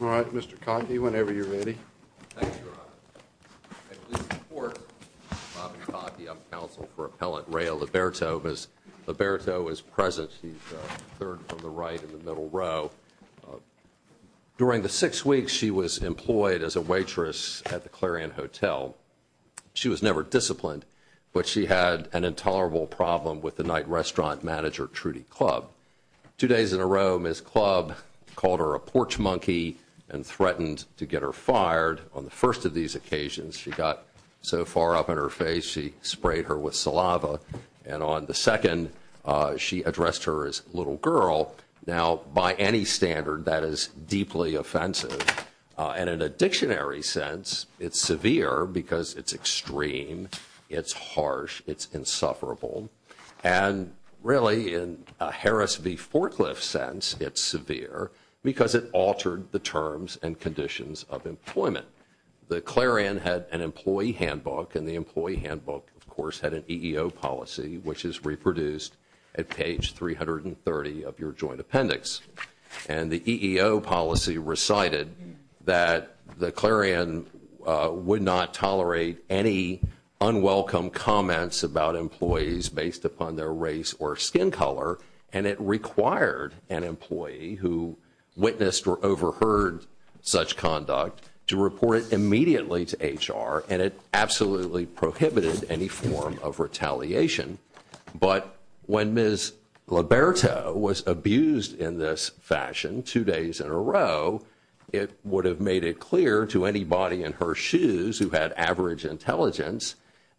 All right, Mr. Kotke, whenever you're ready. Thank you, Rob. My name is Robert Kotke. I'm counsel for appellant Reya Liberto. Ms. Liberto is present. She's the third from the right in the middle row. During the six weeks she was employed as a waitress at the Clarion Hotel. She was never disciplined, but she had an intolerable problem with the night restaurant manager, Trudy Clubb. Two days in a row, Ms. Clubb called her a porch monkey and threatened to get her fired. On the first of these occasions, she got so far up in her face, she sprayed her with saliva. And on the second, she addressed her as little girl. Now, by any standard, that is deeply offensive. And in a dictionary sense, it's severe because it's extreme, it's harsh, it's insufferable. And really, in a Harris v. Forklift sense, it's severe because it altered the terms and conditions of employment. The Clarion had an employee handbook, and the employee handbook, of course, had an EEO policy, which is reproduced at page 330 of your joint appendix. And the EEO policy recited that the Clarion would not tolerate any unwelcome comments about employees based upon their race or skin color, and it required an employee who witnessed or overheard such conduct to report it immediately to HR, and it absolutely prohibited any form of retaliation. But when Ms. Liberto was abused in this fashion two days in a row, it would have made it clear to anybody in her shoes who had average intelligence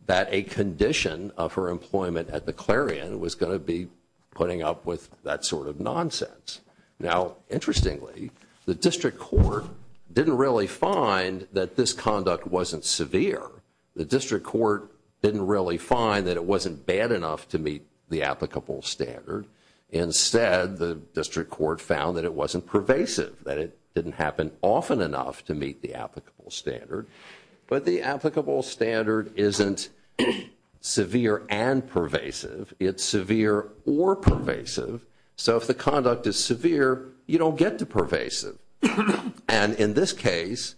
that a condition of her employment at the Clarion was going to be putting up with that sort of nonsense. Now, interestingly, the district court didn't really find that this conduct wasn't severe. The district court didn't really find that it wasn't bad enough to meet the applicable standard. Instead, the district court found that it wasn't pervasive, that it didn't happen often enough to meet the applicable standard. But the applicable standard isn't severe and pervasive. It's severe or pervasive. So if the conduct is severe, you don't get the pervasive. And in this case,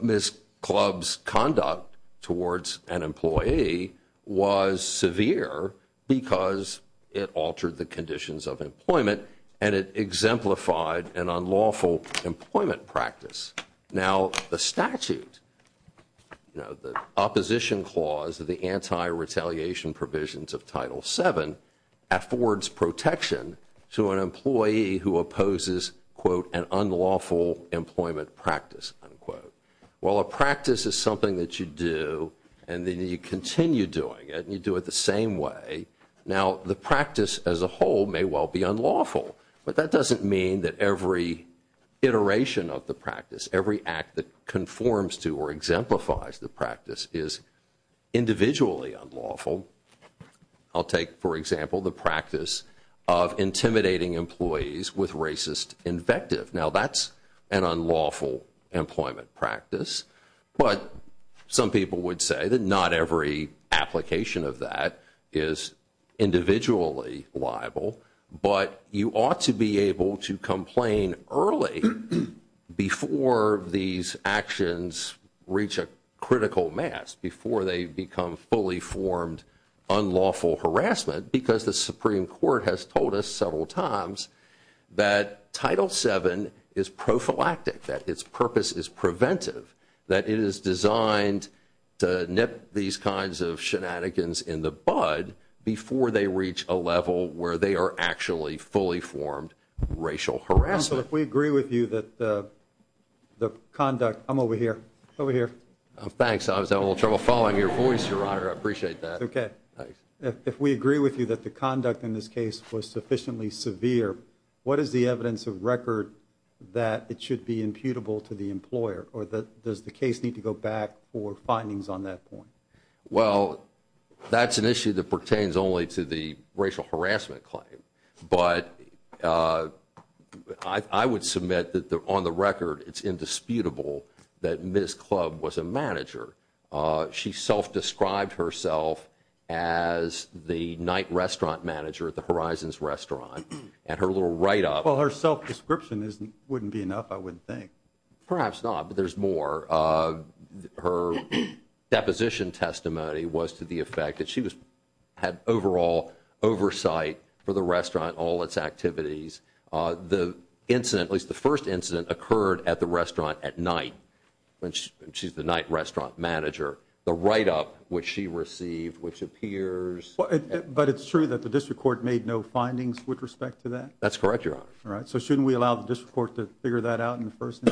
Ms. Clubb's conduct towards an employee was severe because it altered the conditions of employment, and it exemplified an unlawful employment practice. Now, the statute, the opposition clause of the anti-retaliation provisions of Title VII, affords protection to an employee who opposes, quote, an unlawful employment practice, unquote. Well, a practice is something that you do, and then you continue doing it, and you do it the same way. Now, the practice as a whole may well be unlawful, but that doesn't mean that every iteration of the practice, every act that conforms to or exemplifies the practice is individually unlawful. I'll take, for example, the practice of intimidating employees with racist invective. Now, that's an unlawful employment practice. But some people would say that not every application of that is individually liable. But you ought to be able to complain early before these actions reach a critical mass, before they become fully formed unlawful harassment, because the Supreme Court has told us several times that Title VII is prophylactic, that its purpose is preventive, that it is designed to nip these kinds of shenanigans in the bud before they reach a level where they are actually fully formed racial harassment. If we agree with you that the conduct... I'm over here. Over here. Thanks. I was having a little trouble following your voice, Your Honor. I appreciate that. Okay. If we agree with you that the conduct in this case was sufficiently severe, what is the evidence of record that it should be imputable to the employer, or does the case need to go back for findings on that point? Well, that's an issue that pertains only to the racial harassment claim. But I would submit that, on the record, it's indisputable that Ms. Club was a manager. She self-described herself as the night restaurant manager at the Horizons Restaurant. And her little write-up... Well, her self-description wouldn't be enough, I would think. Perhaps not, but there's more. Her deposition testimony was to the effect that she had overall oversight for the restaurant, all its activities. The incident, at least the first incident, occurred at the restaurant at night. She's the night restaurant manager. The write-up, which she received, which appears... But it's true that the district court made no findings with respect to that? That's correct, Your Honor. All right. So shouldn't we allow the district court to figure that out in person?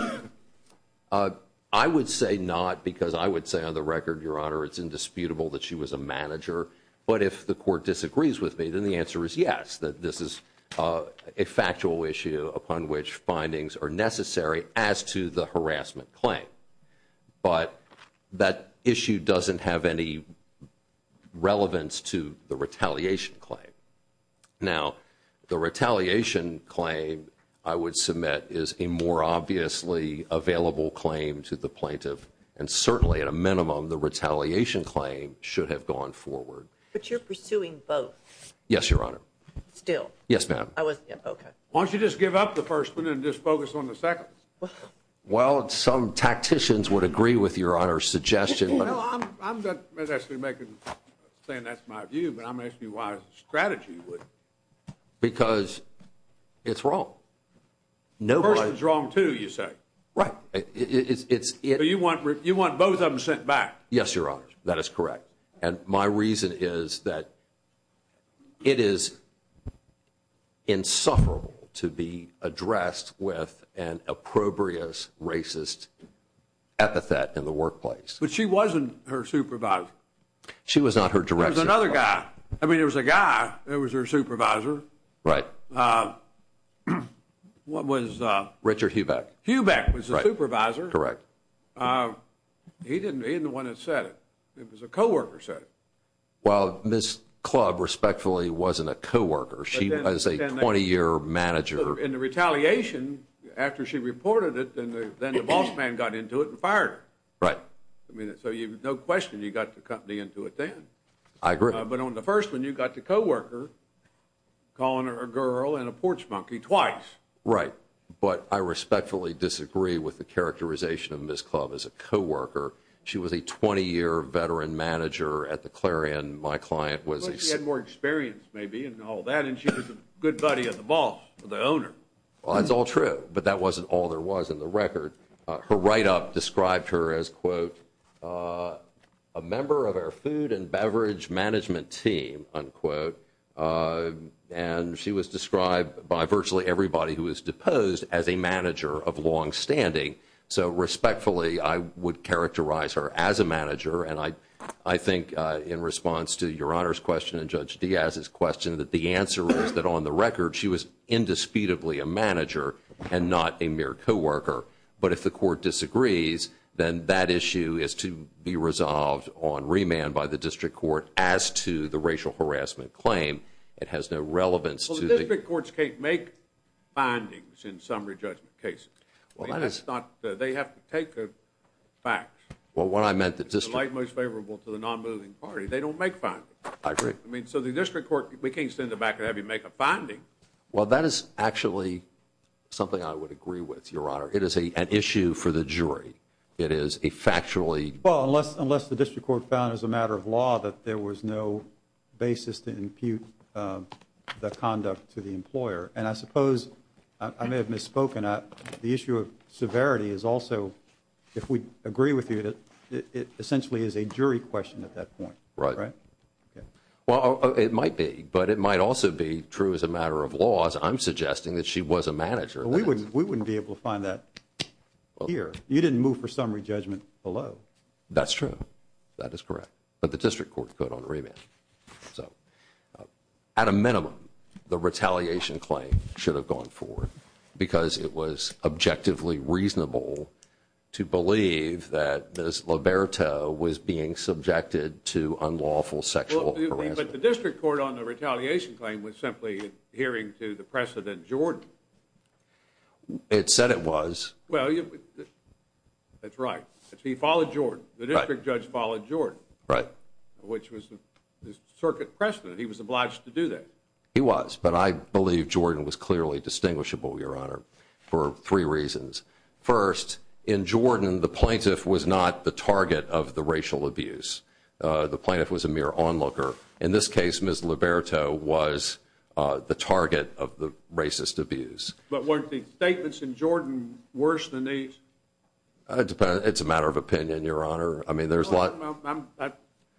I would say not, because I would say, on the record, Your Honor, it's indisputable that she was a manager. But if the court disagrees with me, then the answer is yes, that this is a factual issue upon which findings are necessary as to the harassment claim. But that issue doesn't have any relevance to the retaliation claim. Now, the retaliation claim, I would submit, is a more obviously available claim to the plaintiff. And certainly, at a minimum, the retaliation claim should have gone forward. But you're pursuing both? Yes, Your Honor. Still? Yes, ma'am. Okay. Why don't you just give up the first one and just focus on the second? Well, some tacticians would agree with Your Honor's suggestion. I'm not saying that's my view, but I'm going to ask you why strategy would. Because it's wrong. The person's wrong, too, you say? Right. So you want both of them sent back? Yes, Your Honor. That is correct. And my reason is that it is insufferable to be addressed with an appropriate racist epithet in the workplace. But she wasn't her supervisor. She was not her director. It was another guy. I mean, it was a guy. It was her supervisor. Right. What was... Richard Hubeck. Hubeck was the supervisor. Correct. He didn't want to set it. It was a co-worker who set it. Well, Ms. Club, respectfully, wasn't a co-worker. She was a 20-year manager. In the retaliation, after she reported it, then the boss man got into it and fired her. Right. So there's no question you got the company into it then. I agree. But on the first one, you got the co-worker calling her a girl and a porch monkey twice. Right. But I respectfully disagree with the characterization of Ms. Club as a co-worker. She was a 20-year veteran manager at the Clarion. My client was a... Well, that's all true, but that wasn't all there was in the record. Her write-up described her as, quote, a member of our food and beverage management team, unquote. And she was described by virtually everybody who was deposed as a manager of longstanding. So respectfully, I would characterize her as a manager. And I think, in response to Your Honor's question and Judge Diaz's question, that the answer is that, on the record, she was indisputably a manager and not a mere co-worker. But if the court disagrees, then that issue is to be resolved on remand by the district court as to the racial harassment claim. It has no relevance to the... Well, the district courts can't make findings in summary judgment cases. They have to take the facts. Well, what I meant, the district... The light most favorable to the non-moving party. They don't make findings. I agree. I mean, so the district court, we can't send it back and have you make a finding. Well, that is actually something I would agree with, Your Honor. It is an issue for the jury. It is a factually... Well, unless the district court found as a matter of law that there was no basis to impute the conduct to the employer. And I suppose I may have misspoken. The issue of severity is also, if we agree with you, it essentially is a jury question at that point. Right. Well, it might be. But it might also be true as a matter of laws. I'm suggesting that she was a manager. We wouldn't be able to find that here. You didn't move for summary judgment below. That's true. That is correct. But the district court put it on remand. So, at a minimum, the retaliation claim should have gone forward because it was objectively reasonable to believe that Ms. Liberto was being subjected to unlawful sexual harassment. But the district court on the retaliation claim was simply adhering to the precedent, Jordan. It said it was. Well, that's right. He followed Jordan. The district judge followed Jordan. Right. Which was the circuit precedent. He was obliged to do that. He was. But I believe Jordan was clearly distinguishable, Your Honor, for three reasons. First, in Jordan, the plaintiff was not the target of the racial abuse. The plaintiff was a mere onlooker. In this case, Ms. Liberto was the target of the racist abuse. But weren't the statements in Jordan worse than these? It's a matter of opinion, Your Honor. I mean, there's a lot.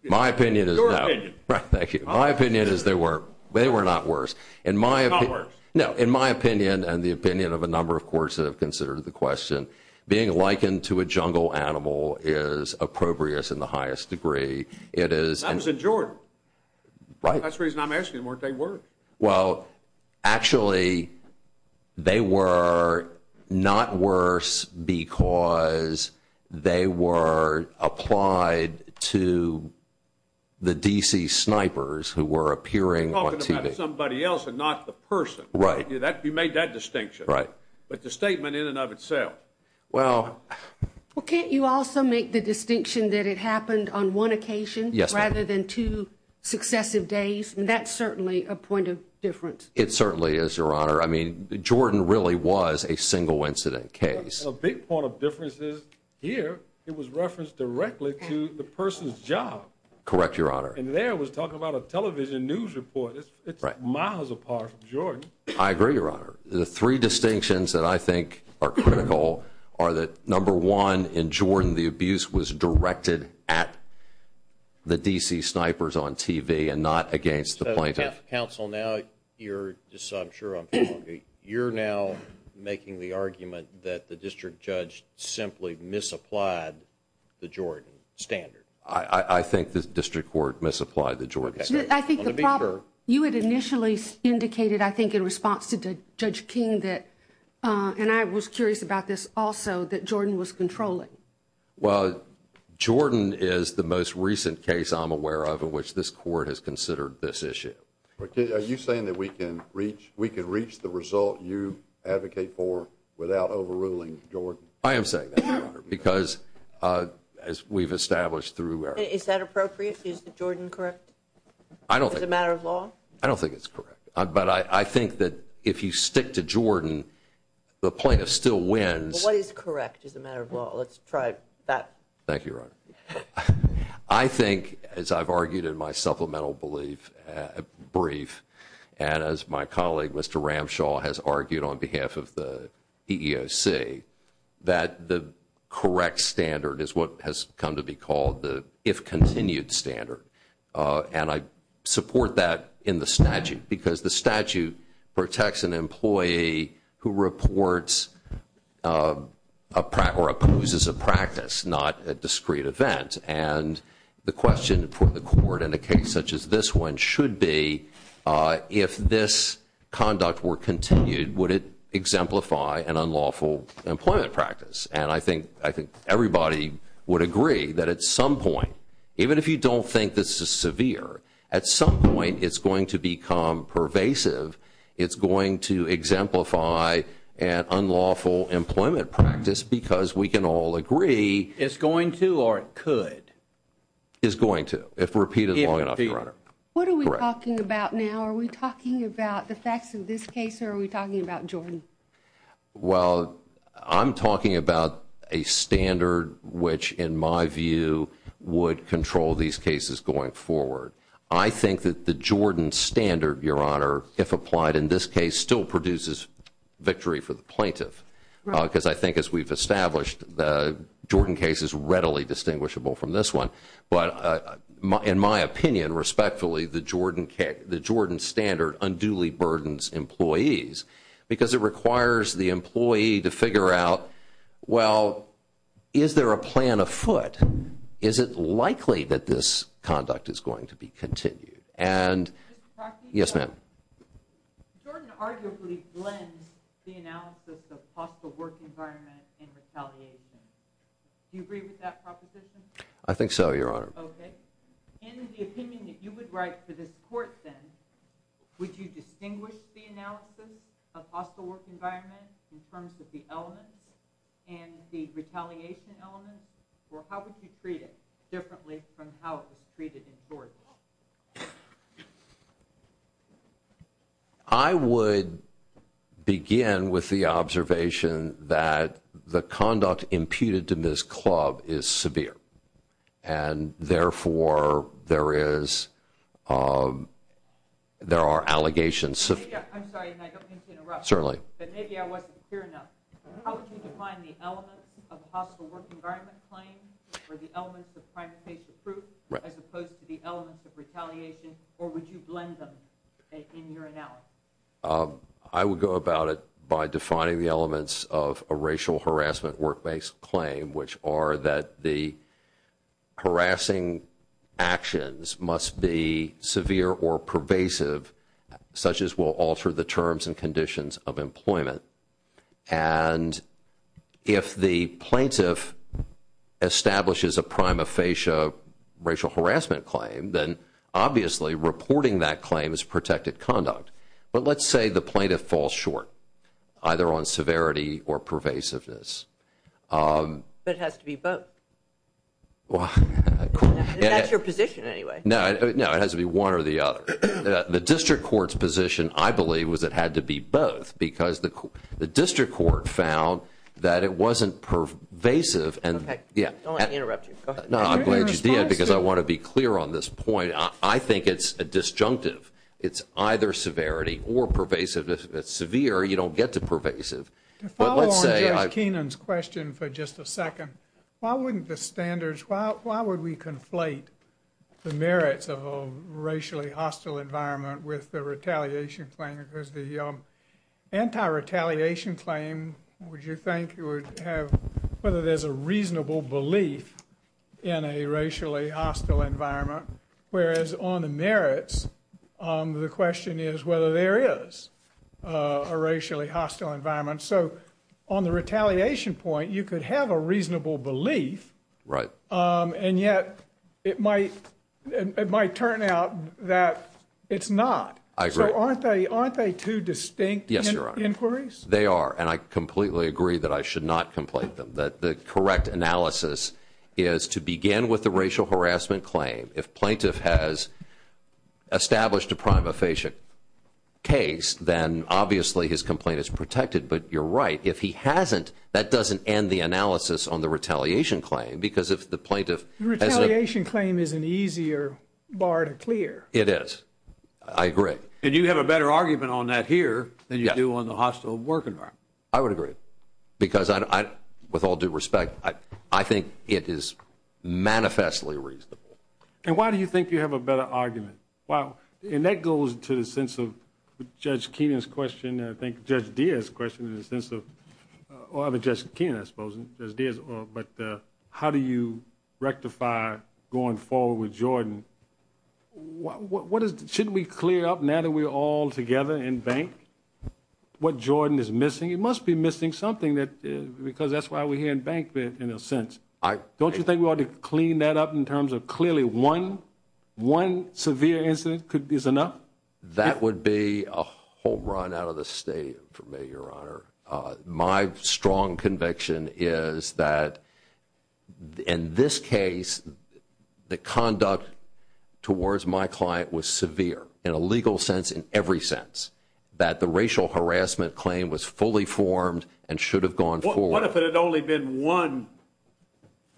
My opinion is that. Your opinion. Thank you. My opinion is they were not worse. Not worse. No, in my opinion and the opinion of a number of courts that have considered the question, being likened to a jungle animal is appropriate in the highest degree. It is. That was in Jordan. Right. That's the reason I'm asking, weren't they worse? Well, actually, they were not worse because they were applied to the D.C. snipers who were appearing on TV. You're talking about somebody else and not the person. Right. You made that distinction. Right. But the statement in and of itself. Well. Well, can't you also make the distinction that it happened on one occasion rather than two successive days? That's certainly a point of difference. It certainly is, Your Honor. I mean, Jordan really was a single incident case. A big point of difference is here it was referenced directly to the person's job. Correct, Your Honor. And there it was talking about a television news report. It's miles apart from Jordan. I agree, Your Honor. The three distinctions that I think are critical are that, number one, in Jordan the abuse was directed at the D.C. snipers on TV and not against the plaintiff. Counsel, now you're, just so I'm sure, you're now making the argument that the district judge simply misapplied the Jordan standard. I think the district court misapplied the Jordan standard. I think the problem, you had initially indicated, I think, in response to Judge King that, and I was curious about this also, that Jordan was controlling. Well, Jordan is the most recent case I'm aware of in which this court has considered this issue. Are you saying that we can reach the result you advocate for without overruling Jordan? I am saying that, Your Honor, because as we've established through… Is that appropriate? Is the Jordan correct? I don't think… As a matter of law? I don't think it's correct. But I think that if you stick to Jordan, the plaintiff still wins. Well, what is correct as a matter of law? Let's try that. Thank you, Your Honor. I think, as I've argued in my supplemental brief, and as my colleague, Mr. Ramshaw, has argued on behalf of the EEOC, that the correct standard is what has come to be called the if-continued standard. And I support that in the statute because the statute protects an employee who reports or opposes a practice, not a discrete event. And the question for the court in a case such as this one should be, if this conduct were continued, would it exemplify an unlawful employment practice? And I think everybody would agree that at some point, even if you don't think this is severe, at some point it's going to become pervasive. It's going to exemplify an unlawful employment practice because we can all agree… It's going to or it could. It's going to, if repeated long enough, Your Honor. What are we talking about now? Are we talking about the facts of this case or are we talking about Jordan? Well, I'm talking about a standard which, in my view, would control these cases going forward. I think that the Jordan standard, Your Honor, if applied in this case, still produces victory for the plaintiff. Because I think as we've established, the Jordan case is readily distinguishable from this one. But in my opinion, respectfully, the Jordan standard unduly burdens employees because it requires the employee to figure out, well, is there a plan afoot? Is it likely that this conduct is going to be continued? And… Yes, ma'am. Jordan arguably blends the analysis of possible work environment in retaliation. Do you agree with that proposition? I think so, Your Honor. Okay. In the opinion that you would write to this court, then, would you distinguish the analysis of possible work environment in terms of the elements and the retaliation elements? Or how would you treat it differently from how it was treated in Florida? I would begin with the observation that the conduct imputed to Ms. Clubb is severe. And, therefore, there are allegations… I'm sorry, and I don't mean to interrupt. Certainly. But maybe I wasn't clear enough. How would you define the elements of a possible work environment claim or the elements of primary case of proof as opposed to the elements of retaliation? Or would you blend them in your analysis? I would go about it by defining the elements of a racial harassment work-based claim, which are that the harassing actions must be severe or pervasive, such as will alter the terms and conditions of employment. And if the plaintiff establishes a prima facie racial harassment claim, then obviously reporting that claim is protected conduct. But let's say the plaintiff falls short, either on severity or pervasiveness. But it has to be both. That's your position, anyway. No, it has to be one or the other. The district court's position, I believe, was it had to be both because the district court found that it wasn't pervasive. Okay. I don't want to interrupt you. Go ahead. No, I'm glad you did because I want to be clear on this point. I think it's disjunctive. It's either severity or pervasive. If it's severe, you don't get to pervasive. To follow on John Keenan's question for just a second, following the standards, why would we conflate the merits of a racially hostile environment with the retaliation claim? Because the anti-retaliation claim, would you think you would have whether there's a reasonable belief in a racially hostile environment? Whereas on the merits, the question is whether there is a racially hostile environment. So on the retaliation point, you could have a reasonable belief. Right. And yet it might turn out that it's not. I agree. So aren't they two distinct inquiries? Yes, Your Honor. They are, and I completely agree that I should not conflate them. The correct analysis is to begin with the racial harassment claim. If plaintiff has established a prima facie case, then obviously his complaint is protected. But you're right, if he hasn't, that doesn't end the analysis on the retaliation claim. Because if the plaintiff has a- The retaliation claim is an easier bar to clear. It is. I agree. And you have a better argument on that here than you do on the hostile work environment. I would agree. Because with all due respect, I think it is manifestly reasonable. And why do you think you have a better argument? Well, and that goes to the sense of Judge Keenan's question and I think Judge Diaz's question in the sense of- or Judge Keenan, I suppose, Judge Diaz, but how do you rectify going forward with Jordan? Shouldn't we clear up now that we're all together in bank what Jordan is missing? He must be missing something because that's why we're here in bank in a sense. Don't you think we ought to clean that up in terms of clearly one severe incident is enough? That would be a home run out of the state for me, Your Honor. My strong conviction is that in this case, the conduct towards my client was severe in a legal sense, in every sense, that the racial harassment claim was fully formed and should have gone forward. What if it had only been one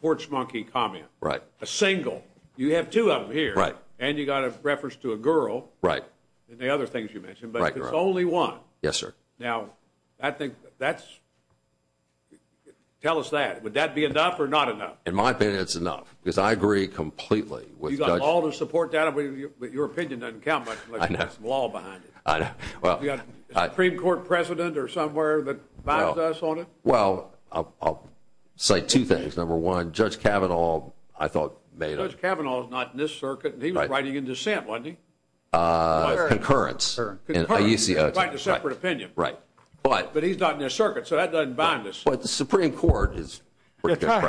porch monkey comment? Right. A single. You have two of them here. Right. And you got a reference to a girl. Right. And the other things you mentioned, but it's only one. Yes, sir. Now, I think that's- tell us that. Would that be enough or not enough? In my opinion, it's enough because I agree completely with Judge- You've got all the support data, but your opinion doesn't count much unless there's some law behind it. I know. Do you have a Supreme Court precedent or somewhere that binds us on it? Well, I'll say two things. Number one, Judge Kavanaugh, I thought- Judge Kavanaugh is not in this circuit, and he was writing in dissent, wasn't he? Concurrence. Concurrence. It's like a separate opinion. Right. But he's not in this circuit, so that doesn't bind us. But the Supreme Court is- Supreme Court.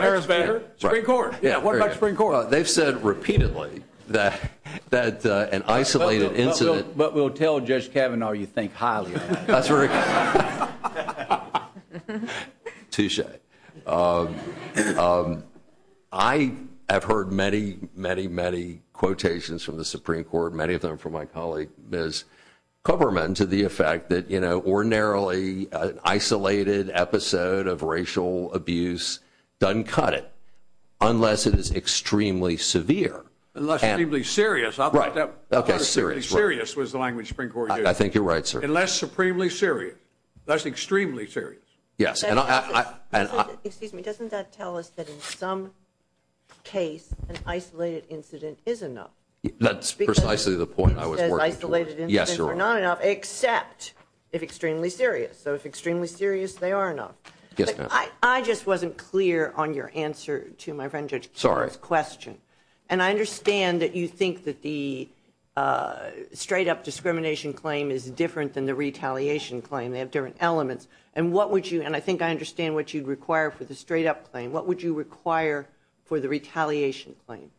What about Supreme Court? They've said repeatedly that an isolated incident- But we'll tell Judge Kavanaugh you think highly of him. That's right. Touche. I have heard many, many, many quotations from the Supreme Court, many of them from my colleague, Ms. Coberman, to the effect that ordinarily an isolated episode of racial abuse doesn't cut it unless it is extremely severe. Unless it's extremely serious. Okay, serious. Serious was the language the Supreme Court used. I think you're right, sir. Unless supremely serious. That's extremely serious. Yes. Excuse me. Doesn't that tell us that in some case an isolated incident is enough? That's precisely the point I was working for. Yes, sir. Except it's extremely serious. So if it's extremely serious, they are enough. Yes, ma'am. I just wasn't clear on your answer to my friend Judge Kavanaugh's question, and I understand that you think that the straight-up discrimination claim is different than the retaliation claim. They have different elements. And I think I understand what you'd require for the straight-up claim. What would you require for the retaliation claim?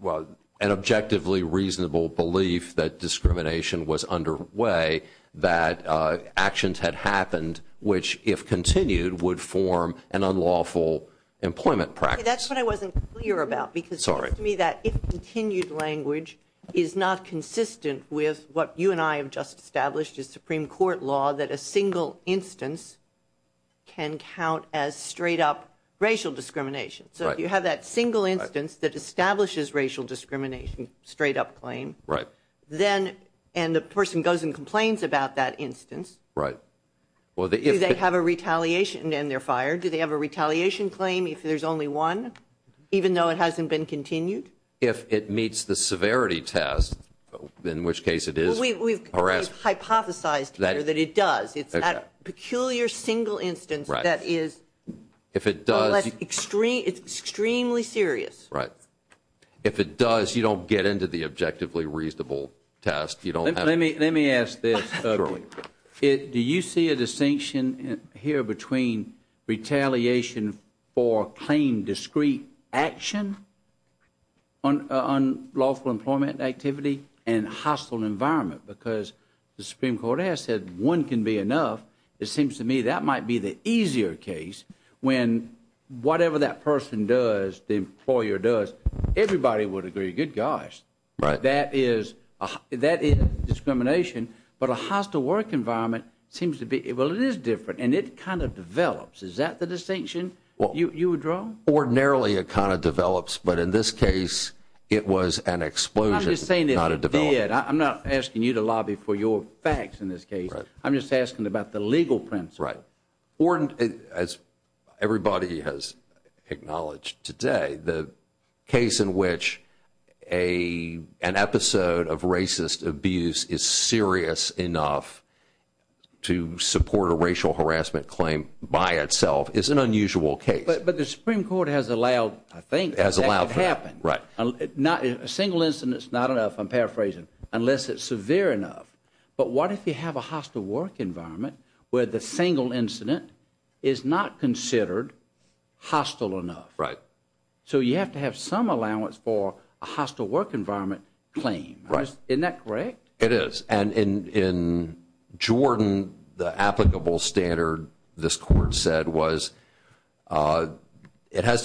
Well, an objectively reasonable belief that discrimination was underway, that actions had happened which, if continued, would form an unlawful employment practice. That's what I wasn't clear about because it seems to me that if continued language is not consistent with what you and I have just established as Supreme Court law, that a single instance can count as straight-up racial discrimination. So if you have that single instance that establishes racial discrimination, straight-up claim, and the person goes and complains about that instance, do they have a retaliation to end their fire? Do they have a retaliation claim? If there's only one, even though it hasn't been continued? If it meets the severity test, in which case it is. We've hypothesized here that it does. It's that peculiar single instance that is extremely serious. Right. If it does, you don't get into the objectively reasonable test. Let me ask this. Do you see a distinction here between retaliation for claim discrete action, unlawful employment activity, and hostile environment? Because the Supreme Court has said one can be enough. It seems to me that might be the easier case when whatever that person does, the employer does, everybody would agree. Good gosh. That is discrimination. But a hostile work environment seems to be, well, it is different, and it kind of develops. Is that the distinction you would draw? Ordinarily, it kind of develops. But in this case, it was an explosion. I'm not asking you to lobby for your facts in this case. I'm just asking about the legal principle. Right. As everybody has acknowledged today, the case in which an episode of racist abuse is serious enough to support a racial harassment claim by itself is an unusual case. But the Supreme Court has allowed, I think, that to happen. Right. A single incident is not enough, I'm paraphrasing, unless it's severe enough. But what if you have a hostile work environment where the single incident is not considered hostile enough? Right. So you have to have some allowance for a hostile work environment claim. Isn't that correct? It is. And in Jordan, the applicable standard, this court said, was it has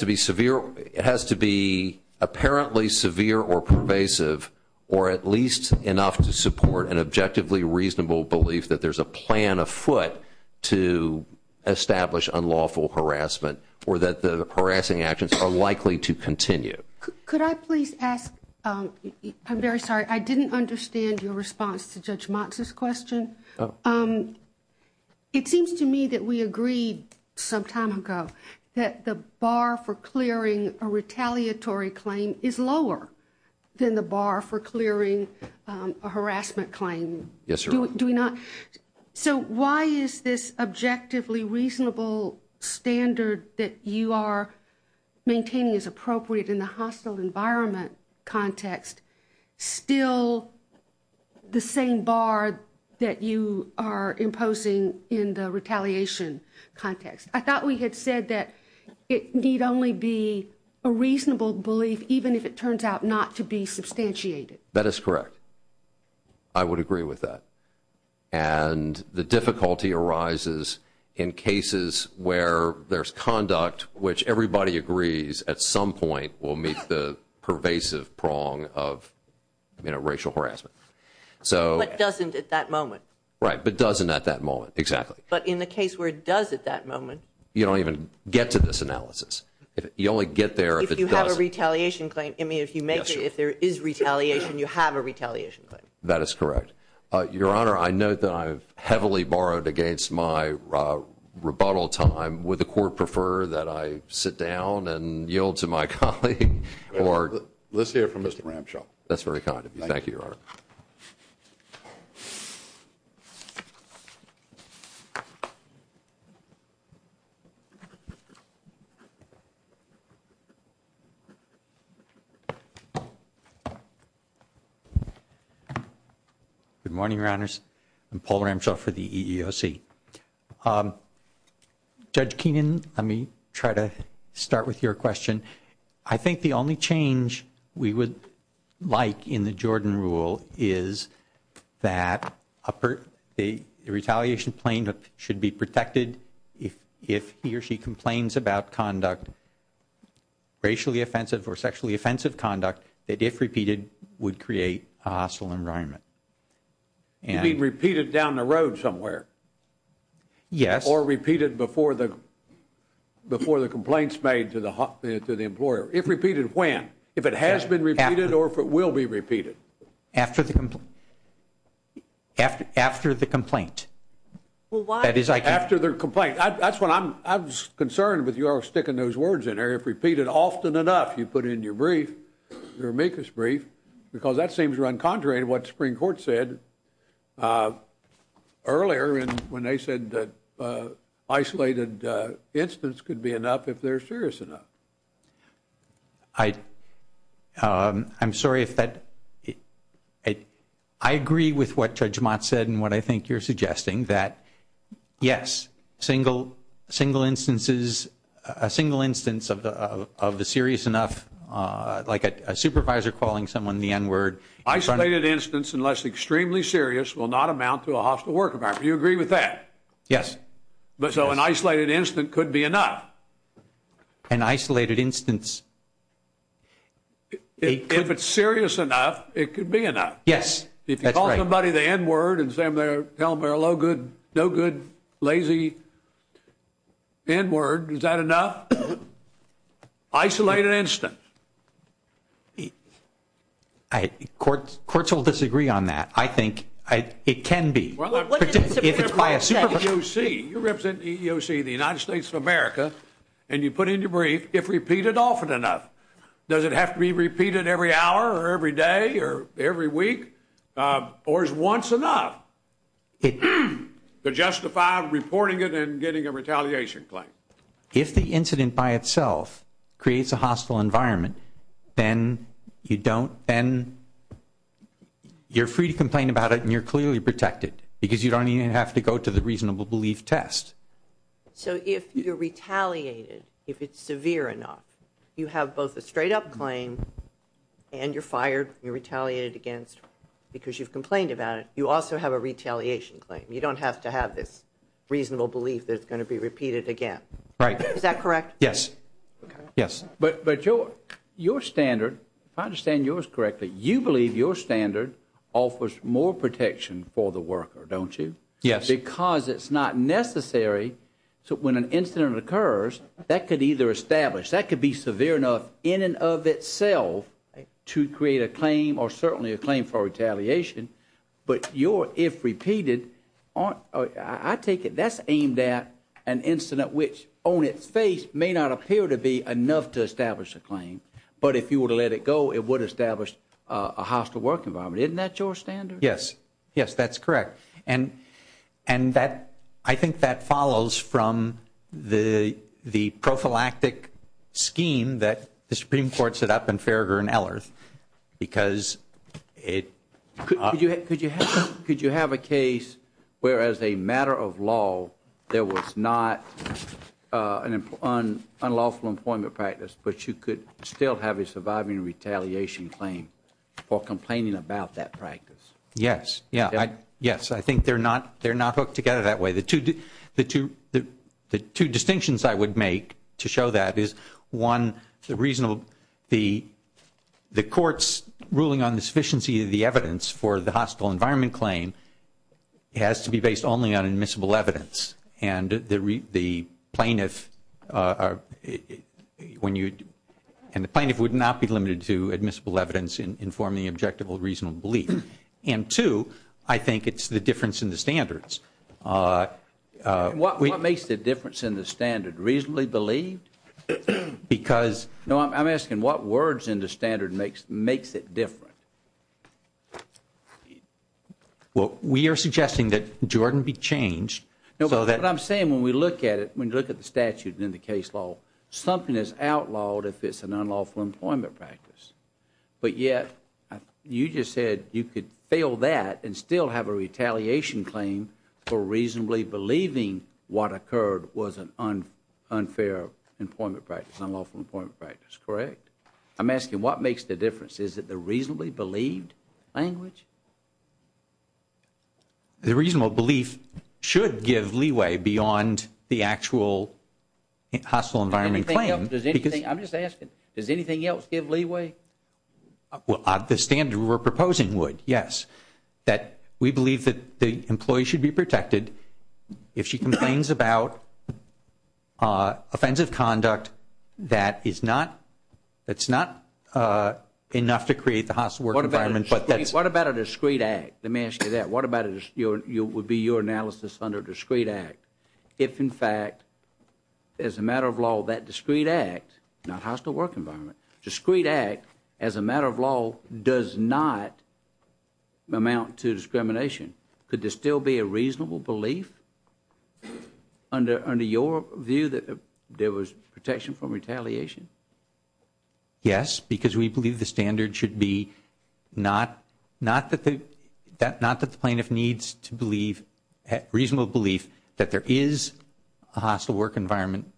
to be apparently severe or pervasive or at least enough to support an objectively reasonable belief that there's a plan afoot to establish unlawful harassment or that the harassing actions are likely to continue. Could I please ask, I'm very sorry, I didn't understand your response to Judge Motz's question. Oh. It seems to me that we agreed some time ago that the bar for clearing a harassment claim. Yes, Your Honor. Do we not? So why is this objectively reasonable standard that you are maintaining as appropriate in the hostile environment context still the same bar that you are imposing in the retaliation context? I thought we had said that it need only be a reasonable belief, even if it turns out not to be substantiated. That is correct. I would agree with that. And the difficulty arises in cases where there's conduct, which everybody agrees at some point will meet the pervasive prong of, you know, racial harassment. But doesn't at that moment. Right, but doesn't at that moment. Exactly. But in the case where it does at that moment. You don't even get to this analysis. You only get there if it doesn't. If you have a retaliation claim. I mean, if you make it, if there is retaliation, you have a retaliation claim. That is correct. Your Honor, I note that I've heavily borrowed against my rebuttal time. Would the Court prefer that I sit down and yield to my colleague? Let's hear it from Mr. Ramshaw. That's very kind of you. Thank you, Your Honor. Good morning, Your Honors. I'm Paul Ramshaw for the EEOC. Judge Keenan, let me try to start with your question. I think the only change we would like in the Jordan rule is that the retaliation claim should be protected if he or she complains about conduct racially offensive or sexually offensive conduct that, if repeated, would create a hostile environment. It would be repeated down the road somewhere. Yes. Or repeated before the complaint is made to the employer. If repeated when? If it has been repeated or if it will be repeated? After the complaint. After the complaint. That's what I'm concerned with your sticking those words in there. If repeated often enough, you put it in your brief, your amicus brief, because that seems to run contrary to what the Supreme Court said earlier when they said that isolated incidents could be enough if they're serious enough. I'm sorry if that... I agree with what Judge Mott said and what I think you're suggesting, that, yes, single instances, a single instance of the serious enough, like a supervisor calling someone the N-word. Isolated incidents, unless extremely serious, will not amount to a hostile work environment. Do you agree with that? Yes. So an isolated incident could be enough? An isolated instance... If it's serious enough, it could be enough. Yes. If you call somebody the N-word and say, I'm going to tell them they're a no-good, lazy N-word, is that enough? Isolated incident. Courts will disagree on that. I think it can be. Well, let me put it this way. You represent the EEOC, the United States of America, and you put it in your brief, if repeated often enough. Does it have to be repeated every hour or every day or every week? Or is once enough to justify reporting it and getting a retaliation claim? If the incident by itself creates a hostile environment, then you don't... then you're free to complain about it and you're clearly protected because you don't even have to go to the reasonable belief test. So if you're retaliated, if it's severe enough, you have both a straight-up claim and you're fired, you're retaliated against because you've complained about it. You also have a retaliation claim. You don't have to have this reasonable belief that it's going to be repeated again. Right. Is that correct? Yes. Yes. But your standard, if I understand yours correctly, you believe your standard offers more protection for the worker, don't you? Yes. Because it's not necessary. So when an incident occurs, that could either establish, that could be severe enough in and of itself to create a claim or certainly a claim for retaliation. But your, if repeated, aren't... I take it that's aimed at an incident which on its face may not appear to be enough to establish a claim. But if you were to let it go, it would establish a hostile work environment. Isn't that your standard? Yes. Yes, that's correct. And that, I think that follows from the prophylactic scheme that the Supreme Court set up in Farragher and Ehlers because it... Could you have a case where, as a matter of law, there was not an unlawful employment practice, but you could still have a surviving retaliation claim for complaining about that practice? Yes. Yes, I think they're not hooked together that way. The two distinctions I would make to show that is, one, the court's ruling on the sufficiency of the evidence for the hostile environment claim has to be based only on admissible evidence. And the plaintiff would not be limited to admissible evidence informing the objective or reasonable belief. And two, I think it's the difference in the standards. What makes the difference in the standard reasonably believed? Because... No, I'm asking what words in the standard makes it different? Well, we are suggesting that Jordan be changed. No, but what I'm saying when we look at it, when we look at the statutes in the case law, something is outlawed if it's an unlawful employment practice. But yet, you just said you could fail that and still have a retaliation claim for reasonably believing what occurred was an unfair employment practice, unlawful employment practice, correct? I'm asking what makes the difference. Is it the reasonably believed language? The reasonable belief should give leeway beyond the actual hostile environment claim. I'm just asking, does anything else give leeway? Well, the standard we're proposing would, yes. That we believe that the employee should be protected if she complains about offensive conduct that is not enough to create the hostile work environment. What about a discreet act? Let me ask you that. What would be your analysis under discreet act? If, in fact, as a matter of law, that discreet act, not hostile work environment, discreet act as a matter of law does not amount to discrimination. Could there still be a reasonable belief under your view that there was protection from retaliation? Yes, because we believe the standard should be not that the plaintiff needs to believe, reasonable belief that there is a hostile work environment,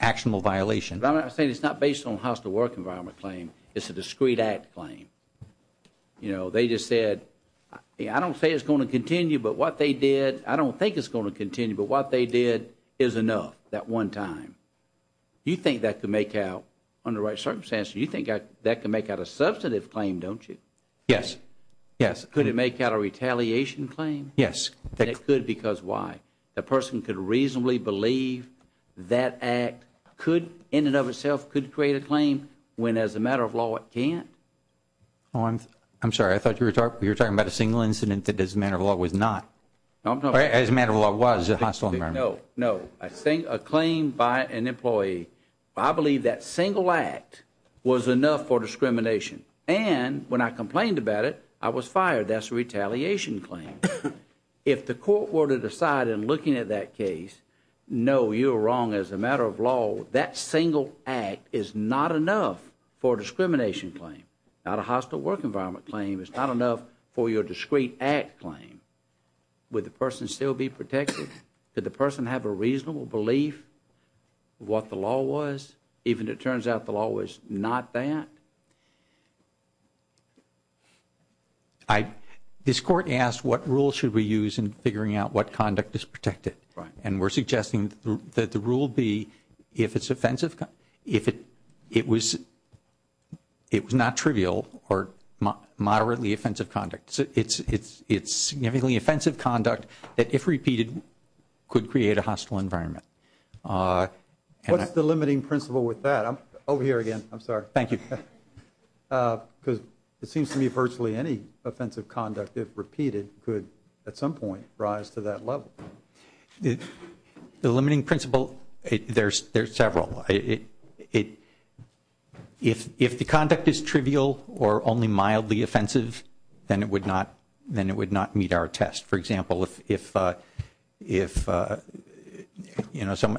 actionable violation. But I'm not saying it's not based on hostile work environment claim. It's a discreet act claim. You know, they just said, I don't say it's going to continue, but what they did, I don't think it's going to continue, but what they did is enough that one time. You think that could make out, under what circumstances, you think that could make out a substantive claim, don't you? Yes, yes. Could it make out a retaliation claim? Yes. It could because why? A person could reasonably believe that act could, in and of itself, could create a claim when as a matter of law it can't? I'm sorry. I thought you were talking about a single incident that as a matter of law was not. As a matter of law was a hostile environment. No, no. I think a claim by an employee. I believe that single act was enough for discrimination. And when I complained about it, I was fired. That's a retaliation claim. If the court were to decide in looking at that case, no, you're wrong as a matter of law, that single act is not enough for a discrimination claim. Not a hostile work environment claim is not enough for your discreet act claim. Would the person still be protected? Did the person have a reasonable belief of what the law was, even if it turns out the law was not that? This court asked what rule should we use in figuring out what conduct is protected. And we're suggesting that the rule be if it's offensive, if it was not trivial or moderately offensive conduct. It's it's it's significantly offensive conduct that if repeated could create a hostile environment. What's the limiting principle with that? I'm over here again. I'm sorry. Thank you. Because it seems to me virtually any offensive conduct if repeated could at some point rise to that level. The limiting principle, there's there's several. If if the conduct is trivial or only mildly offensive, then it would not then it would not meet our test. For example, if if, you know, some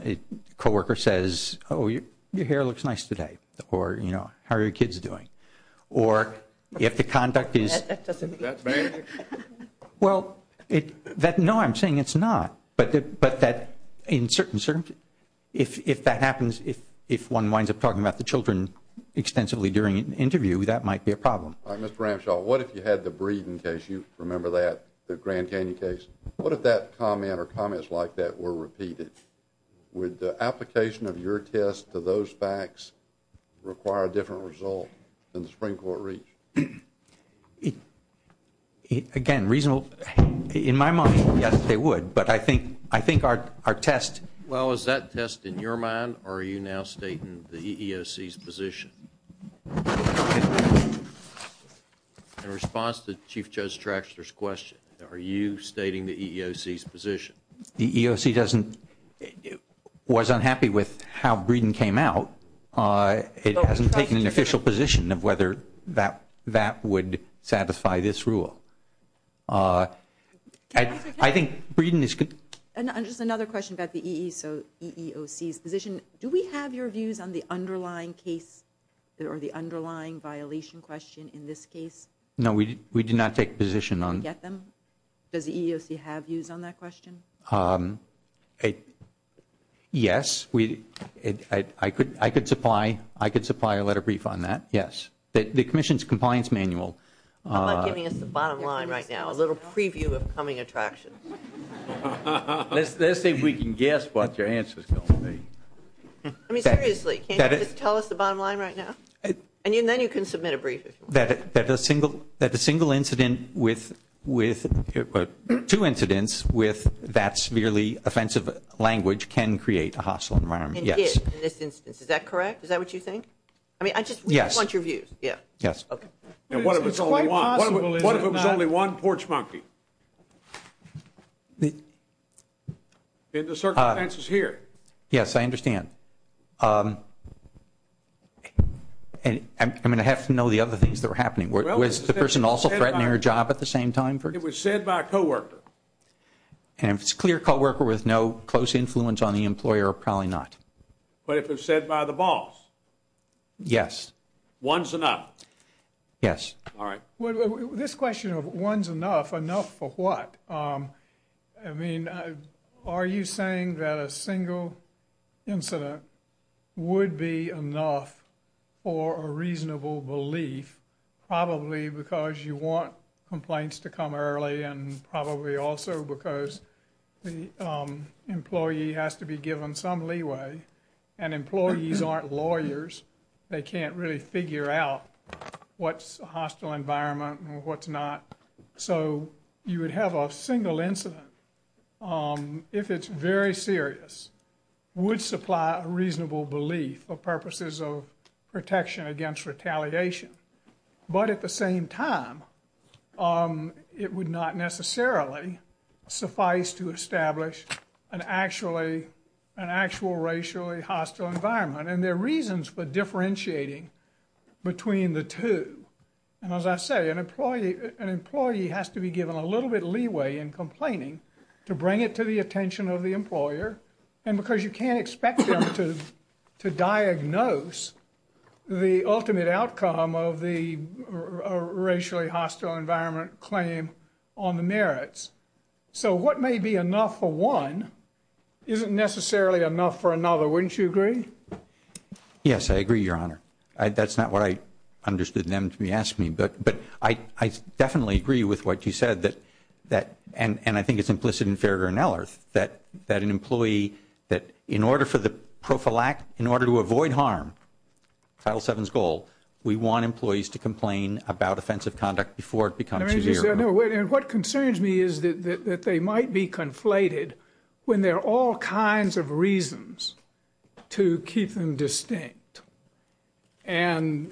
coworker says, oh, your hair looks nice today or, you know, how are your kids doing? Or if the conduct is. Well, no, I'm saying it's not. But but that in certain if that happens, if if one winds up talking about the children extensively during an interview, that might be a problem. Mr. Ramshaw, what if you had the breeding case? You remember that the Grand Canyon case? What if that comment or comments like that were repeated with the application of your test to those facts require a different result than the Supreme Court reach? If again, reasonable in my mind, they would. But I think I think our our test. Well, is that test in your mind? Are you now stating the EOC's position in response to Chief Judge Traxler's question? Are you stating the EOC's position? The EOC doesn't was unhappy with how Breeden came out. It hasn't taken an official position of whether that that would satisfy this rule. I think Breeden is just another question about the EEOC's position. Do we have your views on the underlying case or the underlying violation question in this case? No, we we do not take position on them. Does the EEOC have views on that question? Yes, we I could. I could supply. I could supply a letter brief on that. Yes, the commission's compliance manual. I'm giving us the bottom line right now. A little preview of coming attraction. Let's see if we can guess what the answer is going to be. I mean, seriously, can you tell us the bottom line right now? And then you can submit a brief. That the single that the single incident with with two incidents with that severely offensive language can create a hostile environment. Yes. Is that correct? Is that what you think? I mean, I just want your views. Yes. Yes. What if it's only one? What if it was only one porch monkey? The circumstances here. Yes, I understand. And I'm going to have to know the other things that were happening. Was the person also threatening your job at the same time? It was said by a co-worker. And it's clear co-worker with no close influence on the employer. Probably not. But if it's said by the boss. Yes. One's enough. Yes. All right. This question of one's enough enough for what? I mean, are you saying that a single incident would be enough for a reasonable belief? Probably because you want complaints to come early and probably also because the employee has to be given some leeway and employees aren't lawyers. They can't really figure out what's a hostile environment and what's not. So you would have a single incident if it's very serious, would supply a reasonable belief for purposes of protection against retaliation. But at the same time, it would not necessarily suffice to establish an actual racially hostile environment. And there are reasons for differentiating between the two. And as I say, an employee, an employee has to be given a little bit leeway in complaining to bring it to the attention of the employer. And because you can't expect to diagnose the ultimate outcome of the racially hostile environment claim on the merits. So what may be enough for one isn't necessarily enough for another. Wouldn't you agree? Yes, I agree, Your Honor. That's not what I understood them to be asking. But I definitely agree with what you said that that and I think it's implicit and fairer than others that that an employee that in order for the prophylactic, in order to avoid harm. Title seven's goal, we want employees to complain about offensive conduct before it becomes. What concerns me is that they might be conflated when there are all kinds of reasons to keep them distinct. And,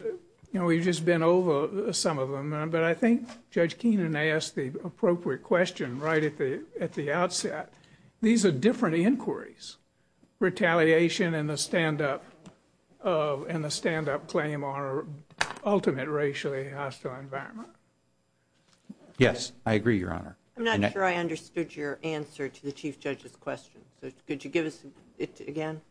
you know, we've just been over some of them, but I think Judge Keenan asked the appropriate question right at the at the outset. These are different inquiries. Retaliation and the stand up and the stand up claim are ultimate racially hostile environment. Yes, I agree, Your Honor. I'm not sure I understood your answer to the chief judge's question. Could you give it again?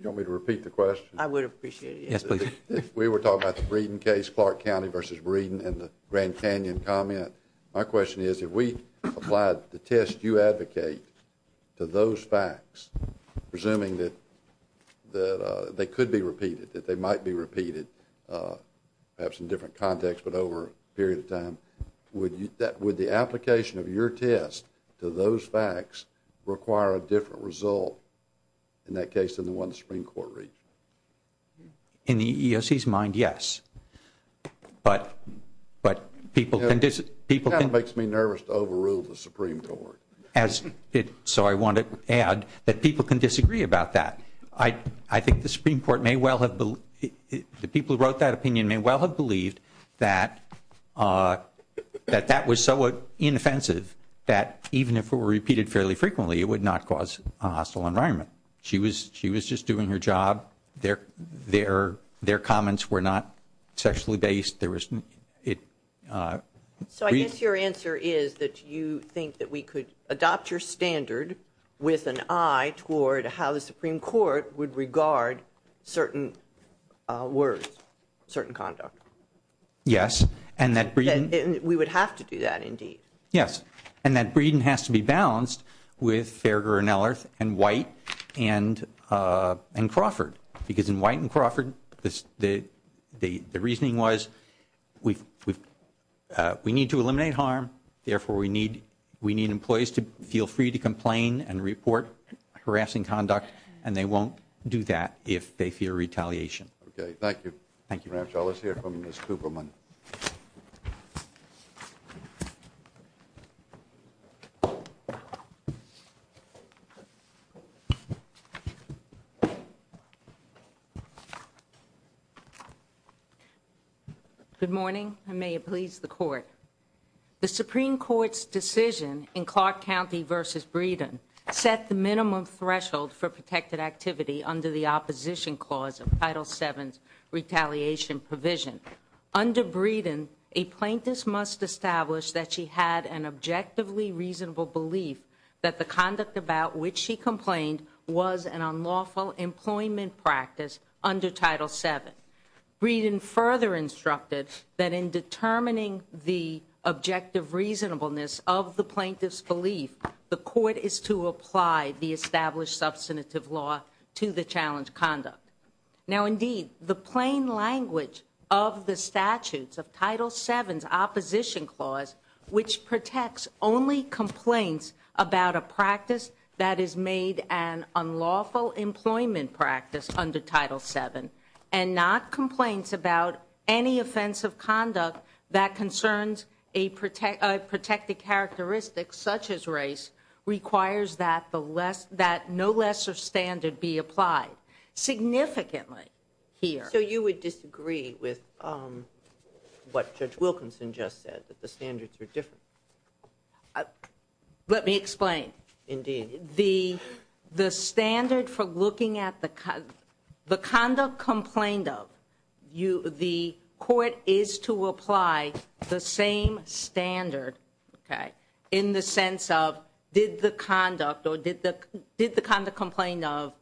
You want me to repeat the question? I would appreciate it. We were talking about the Breeden case, Clark County versus Breeden and the Grand Canyon comment. My question is, if we applied the test you advocate to those facts, presuming that that they could be repeated, that they might be repeated, perhaps in different context, but over a period of time, would you that would the application of your test to those facts require a different result in that case than the one the Supreme Court reached? In the EEOC's mind, yes. But people can disagree. That makes me nervous to overrule the Supreme Court. So I want to add that people can disagree about that. I think the Supreme Court may well have the people who wrote that opinion may well have believed that that was so inoffensive that even if it were repeated fairly frequently, it would not cause hostile environment. She was just doing her job. Their comments were not sexually based. So I guess your answer is that you think that we could adopt your standard with an eye toward how the Supreme Court would regard certain words, certain conduct. Yes. And we would have to do that indeed. Yes. And that reason has to be balanced with Farragher and Ehlers and White and Crawford. Because in White and Crawford, the reasoning was we need to eliminate harm. Therefore, we need employees to feel free to complain and report harassing conduct. And they won't do that if they fear retaliation. Okay. Thank you. Thank you. Let's hear from Ms. Zuberman. Good morning. The Supreme Court's decision in Clark County v. Breeden set the minimum threshold for protected activity under the opposition clause of Title VII retaliation provision. Under Breeden, a plaintiff must establish that she had an objectively reasonable belief that the conduct about which she complained was an unlawful employment practice under Title VII. Breeden further instructed that in determining the objective reasonableness of the plaintiff's belief, the court is to apply the established substantive law to the challenged conduct. Now, indeed, the plain language of the statutes of Title VII's opposition clause, which protects only complaints about a practice that is made an unlawful employment practice under Title VII, and not complaints about any offensive conduct that concerns a protected characteristic such as race, requires that no lesser standard be applied. Significantly here. So you would disagree with what Judge Wilkinson just said, that the standards are different? Indeed. The standard for looking at the conduct complained of, the court is to apply the same standard, okay, in the sense of did the conduct or did the conduct complained of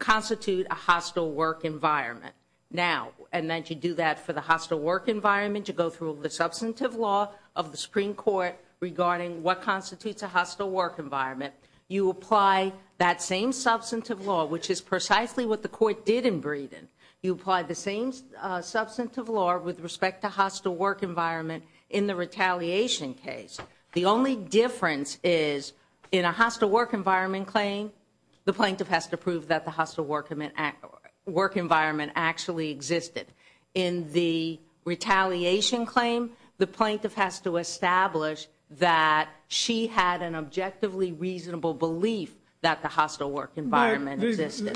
constitute a hostile work environment? Now, and then to do that for the hostile work environment, you go through the substantive law of the Supreme Court regarding what constitutes a hostile work environment. You apply that same substantive law, which is precisely what the court did in Breeden. You apply the same substantive law with respect to hostile work environment in the retaliation case. The only difference is in a hostile work environment claim, the plaintiff has to prove that the hostile work environment actually existed. In the retaliation claim, the plaintiff has to establish that she had an objectively reasonable belief that the hostile work environment existed.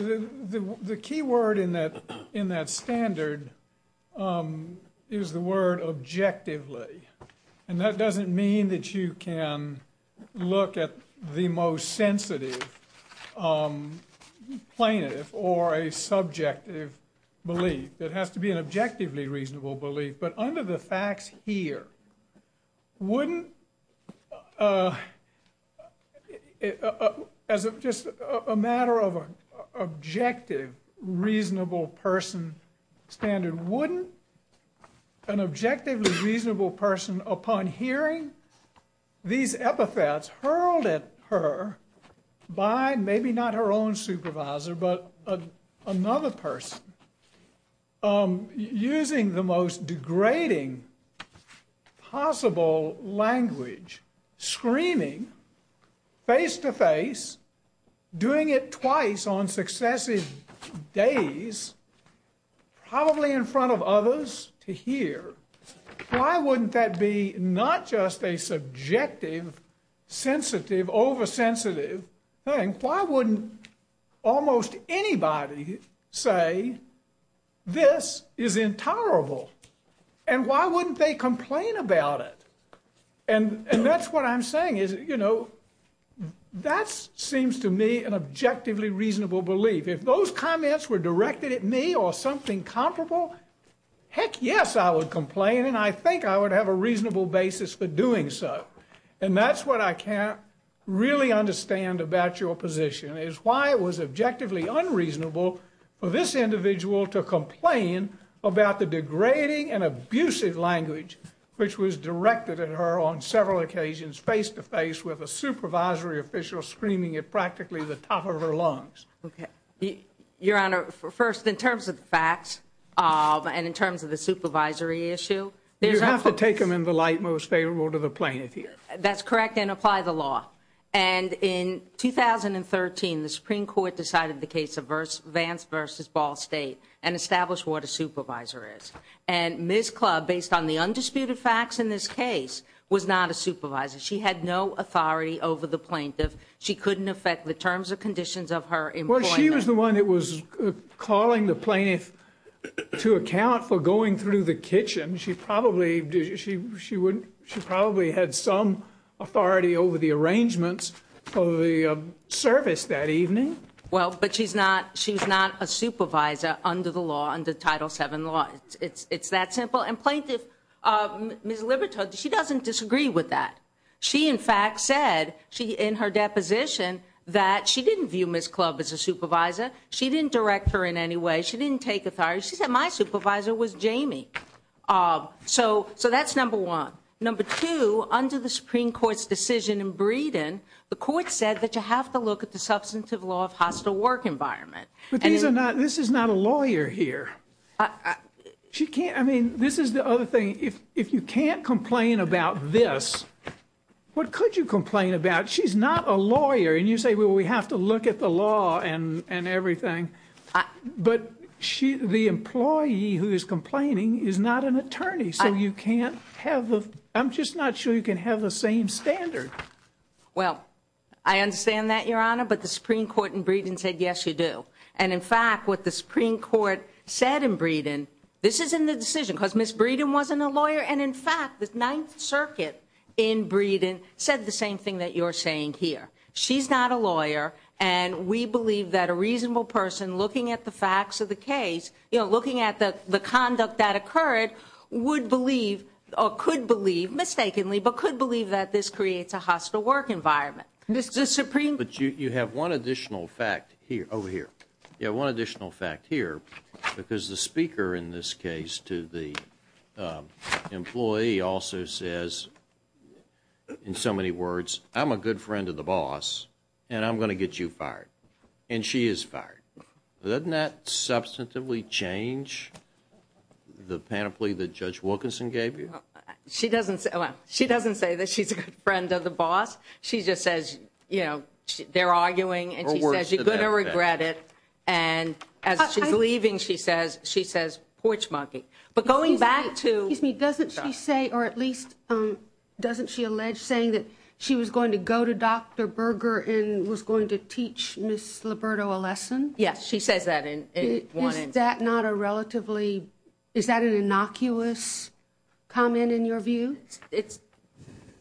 The key word in that standard is the word objectively, and that doesn't mean that you can look at the most sensitive plaintiff or a subjective belief. It has to be an objectively reasonable belief, but under the fact here, wouldn't, as just a matter of an objective reasonable person standard, wouldn't an objectively reasonable person upon hearing these epithets hurled at her by maybe not her own supervisor, but another person. Using the most degrading possible language, screaming face-to-face, doing it twice on successive days, probably in front of others to hear. Why wouldn't that be not just a subjective, sensitive, oversensitive thing? Why wouldn't almost anybody say this is intolerable, and why wouldn't they complain about it? And that's what I'm saying is, you know, that seems to me an objectively reasonable belief. If those comments were directed at me or something comparable, heck yes, I would complain, and I think I would have a reasonable basis for doing so. And that's what I can't really understand about your position, is why it was objectively unreasonable for this individual to complain about the degrading and abusive language which was directed at her on several occasions face-to-face with a supervisory official screaming at practically the top of her lungs. Okay. Your Honor, first, in terms of facts, and in terms of the supervisory issue. You have to take them in the light most favorable to the plaintiff here. That's correct, and apply the law. And in 2013, the Supreme Court decided the case of Vance v. Ball State and established what a supervisor is. And Ms. Clubb, based on the undisputed facts in this case, was not a supervisor. She had no authority over the plaintiff. She couldn't affect the terms or conditions of her employment. She was the one that was calling the plaintiff to account for going through the kitchen. She probably had some authority over the arrangements for the service that evening. Well, but she's not a supervisor under the law, under Title VII law. It's that simple. And plaintiff, Ms. Libertad, she doesn't disagree with that. She, in fact, said in her deposition that she didn't view Ms. Clubb as a supervisor. She didn't direct her in any way. She didn't take authority. She said, my supervisor was Jamie. So that's number one. Number two, under the Supreme Court's decision in Breeden, the court said that you have to look at the substantive law of hostile work environment. But this is not a lawyer here. She can't, I mean, this is the other thing. If you can't complain about this, what could you complain about? She's not a lawyer. And you say, well, we have to look at the law and everything. But the employee who is complaining is not an attorney. So you can't have the, I'm just not sure you can have the same standard. Well, I understand that, Your Honor. But the Supreme Court in Breeden said, yes, you do. And, in fact, what the Supreme Court said in Breeden, this is in the decision because Ms. Breeden wasn't a lawyer. And, in fact, the Ninth Circuit in Breeden said the same thing that you're saying here. She's not a lawyer. And we believe that a reasonable person looking at the facts of the case, you know, looking at the conduct that occurred, would believe or could believe, mistakenly, but could believe that this creates a hostile work environment. But you have one additional fact here. Over here. You have one additional fact here. Because the speaker in this case to the employee also says, in so many words, I'm a good friend of the boss, and I'm going to get you fired. And she is fired. Doesn't that substantively change the panoply that Judge Wilkinson gave you? She doesn't say that she's a good friend of the boss. She just says, you know, they're arguing, and she says, you're going to regret it. And as she's leaving, she says, she says, porch monkey. But going back to – Excuse me. Doesn't she say, or at least doesn't she allege saying that she was going to go to Dr. Berger and was going to teach Ms. Liberto a lesson? Yes. She said that in one interview. Isn't that not a relatively – is that an innocuous comment in your view? It's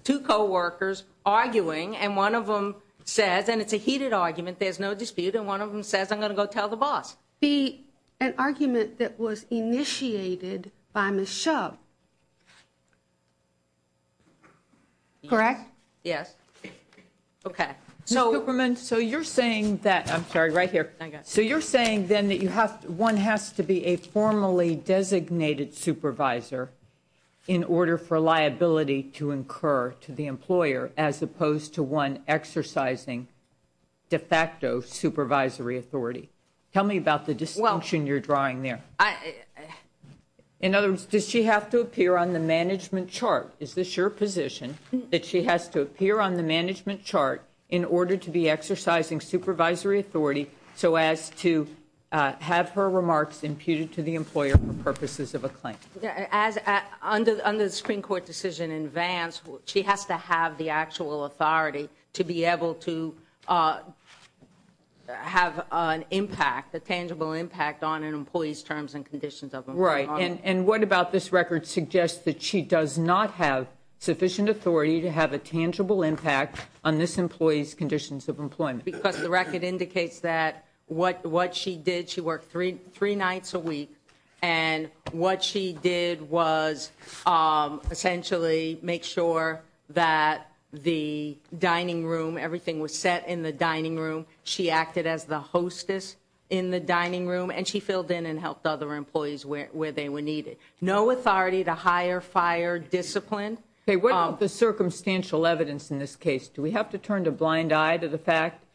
two coworkers arguing, and one of them says – and it's a heated argument. There's no dispute. And one of them says, I'm going to go tell the boss. An argument that was initiated by Ms. Shub. Correct? Yes. Okay. So you're saying that – I'm sorry. Right here. So you're saying then that one has to be a formally designated supervisor in order for liability to incur to the employer as opposed to one exercising de facto supervisory authority. Tell me about the distinction you're drawing there. In other words, does she have to appear on the management chart? Is this your position that she has to appear on the management chart in order to be exercising supervisory authority so as to have her remarks imputed to the employer for purposes of a claim? Under the Supreme Court decision in advance, she has to have the actual authority to be able to have an impact, a tangible impact on an employee's terms and conditions of employment. Right. And what about this record suggests that she does not have sufficient authority to have a tangible impact on this employee's conditions of employment? Because the record indicates that what she did, she worked three nights a week. And what she did was essentially make sure that the dining room, everything was set in the dining room. She acted as the hostess in the dining room. And she filled in and helped other employees where they were needed. No authority to hire, fire, discipline. Okay. What about the circumstantial evidence in this case? Do we have to turn a blind eye to the fact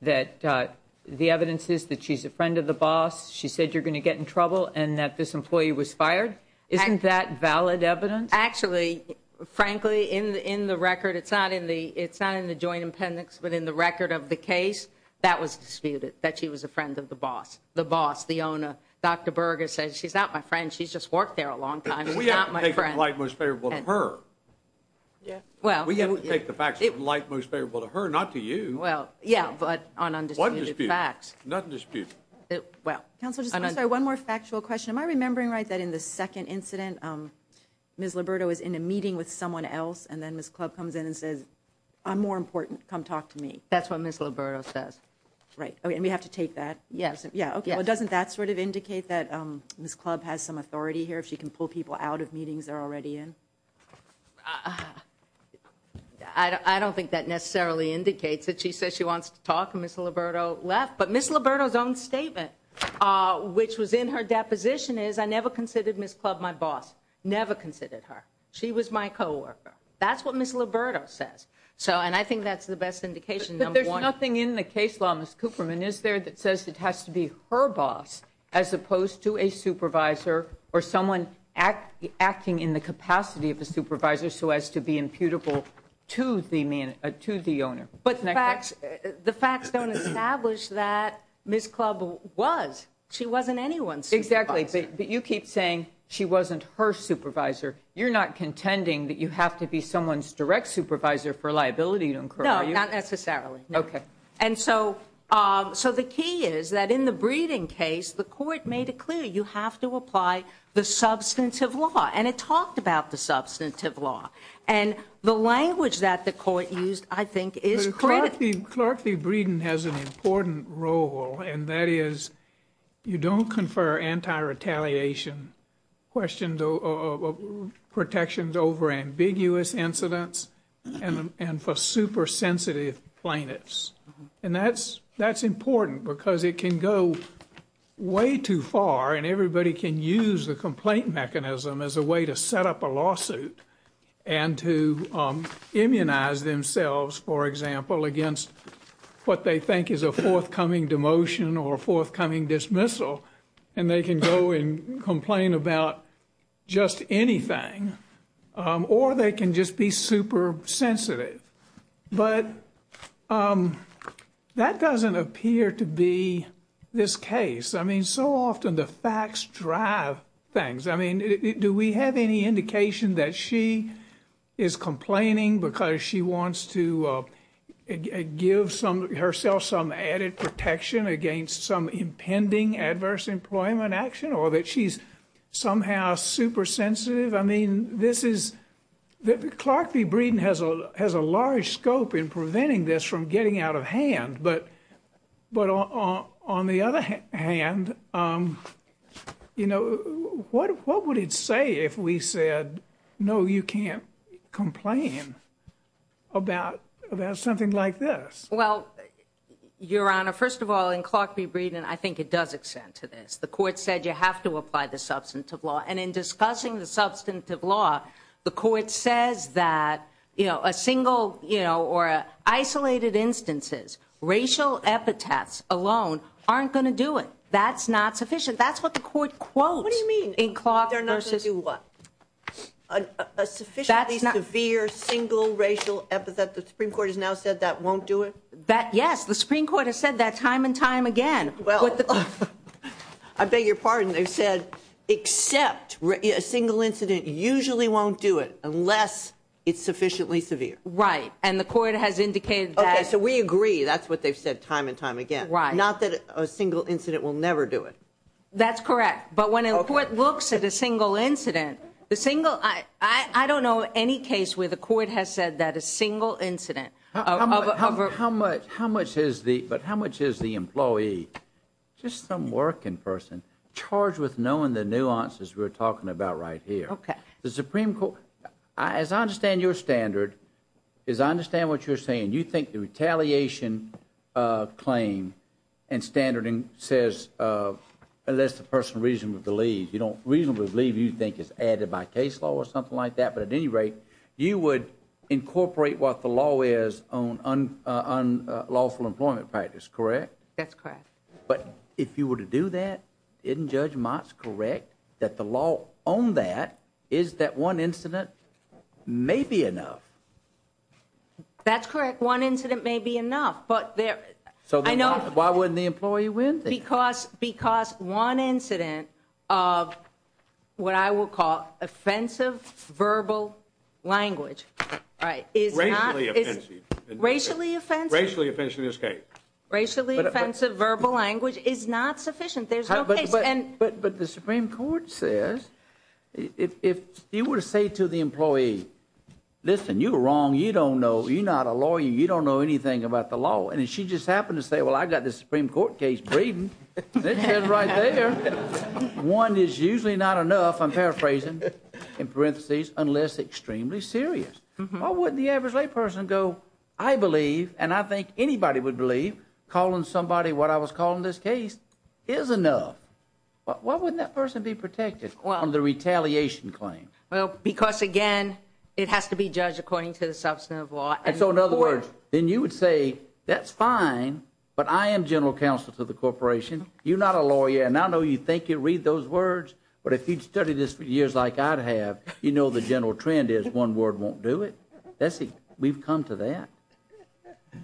that the evidence is that she's a friend of the boss, she said you're going to get in trouble, and that this employee was fired? Isn't that valid evidence? Actually, frankly, in the record, it's not in the joint appendix, but in the record of the case, that was disputed, that she was a friend of the boss, the boss, the owner. Dr. Berger says she's not my friend. She's just worked there a long time and not my friend. We have to take the facts that are most favorable to her, not to you. Well, yeah, but on undisputed facts. Nothing to dispute. Nothing to dispute. Counselor, just one more factual question. Am I remembering right that in the second incident, Ms. Liberto was in a meeting with someone else, and then Ms. Clubb comes in and says, I'm more important. Come talk to me. That's what Ms. Liberto says. Right. Okay, and we have to take that? Yes. Yeah, okay. Doesn't that sort of indicate that Ms. Clubb has some authority here, if she can pull people out of meetings they're already in? I don't think that necessarily indicates that she says she wants to talk, and Ms. Liberto left. But Ms. Liberto's own statement, which was in her deposition, is I never considered Ms. Clubb my boss. Never considered her. She was my coworker. That's what Ms. Liberto says, and I think that's the best indication, number one. But there's nothing in the case law, Ms. Cooperman, is there, that says it has to be her boss as opposed to a supervisor or someone acting in the capacity of the supervisor so as to be imputable to the owner. But the facts don't establish that Ms. Clubb was. She wasn't anyone's supervisor. Exactly, but you keep saying she wasn't her supervisor. You're not contending that you have to be someone's direct supervisor for liability to incur. No, not necessarily. Okay. And so the key is that in the Breeding case, the court made it clear you have to apply the substantive law, and it talked about the substantive law. And the language that the court used, I think, is critical. Clerk v. Breeding has an important role, and that is you don't confer anti-retaliation protections over ambiguous incidents and for super-sensitive plaintiffs. And that's important because it can go way too far, and everybody can use a complaint mechanism as a way to set up a lawsuit and to immunize themselves, for example, against what they think is a forthcoming demotion or a forthcoming dismissal. And they can go and complain about just anything, or they can just be super-sensitive. But that doesn't appear to be this case. I mean, so often the facts drive things. I mean, do we have any indication that she is complaining because she wants to give herself some added protection against some impending adverse employment action or that she's somehow super-sensitive? I mean, this is – Clerk v. Breeding has a large scope in preventing this from getting out of hand. But on the other hand, you know, what would it say if we said, no, you can't complain about something like this? Well, Your Honor, first of all, in Clerk v. Breeding, I think it does extend to this. The court said you have to apply the substantive law. And in discussing the substantive law, the court says that, you know, a single, you know, or isolated instances, racial epithets alone aren't going to do it. That's not sufficient. That's what the court quotes. What do you mean? A sufficiently severe single racial epithet. The Supreme Court has now said that won't do it? Yes, the Supreme Court has said that time and time again. I beg your pardon. They said except a single incident usually won't do it unless it's sufficiently severe. Right. And the court has indicated that. Okay. So we agree. That's what they've said time and time again. Right. Not that a single incident will never do it. That's correct. But when a court looks at a single incident, the single – I don't know any case where the court has said that a single incident of a – But how much is the employee, just some working person, charged with knowing the nuances we're talking about right here? Okay. The Supreme Court – as I understand your standard, as I understand what you're saying, you think the retaliation claim and standard says unless the person reasonably believes. You don't reasonably believe. You think it's added by case law or something like that. But at any rate, you would incorporate what the law is on unlawful employment practice, correct? That's correct. But if you were to do that, isn't Judge Mott's correct that the law on that is that one incident may be enough? That's correct. One incident may be enough. But there – So then why wouldn't the employee win? Because one incident of what I will call offensive verbal language is not – Racially offensive. Racially offensive. Racially offensive is okay. Racially offensive verbal language is not sufficient. There's no case – But the Supreme Court says if you were to say to the employee, listen, you're wrong. You don't know. You're not a lawyer. You don't know anything about the law. And she just happened to say, well, I've got this Supreme Court case braiding. And it says right there, one is usually not enough. I'm paraphrasing. In parentheses, unless extremely serious. Why wouldn't the average layperson go, I believe, and I think anybody would believe, calling somebody what I was calling this case is enough. Why wouldn't that person be protected on the retaliation claim? Well, because again, it has to be judged according to the substantive law. So in other words, then you would say that's fine, but I am general counsel to the corporation. You're not a lawyer, and I know you think you read those words. But if you'd studied this for years like I'd have, you know the general trend is one word won't do it. We've come to that.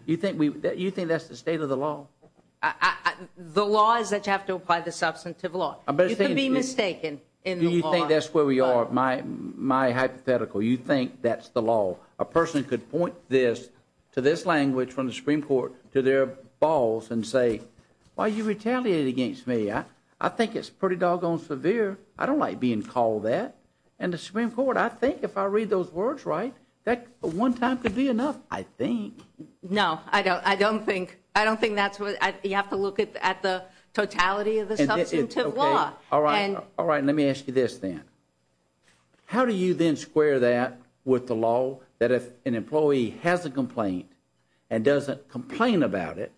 You think that's the state of the law? The law is that you have to apply the substantive law. You could be mistaken in the law. You think that's where we are, my hypothetical. You think that's the law. A person could point this to this language from the Supreme Court to their balls and say, well, you retaliated against me. I think it's pretty doggone severe. I don't like being called that. And the Supreme Court, I think if I read those words right, that one time could be enough, I think. No, I don't think. I don't think that's what – you have to look at the totality of the substantive law. All right. Let me ask you this then. How do you then square that with the law that if an employee has a complaint and doesn't complain about it,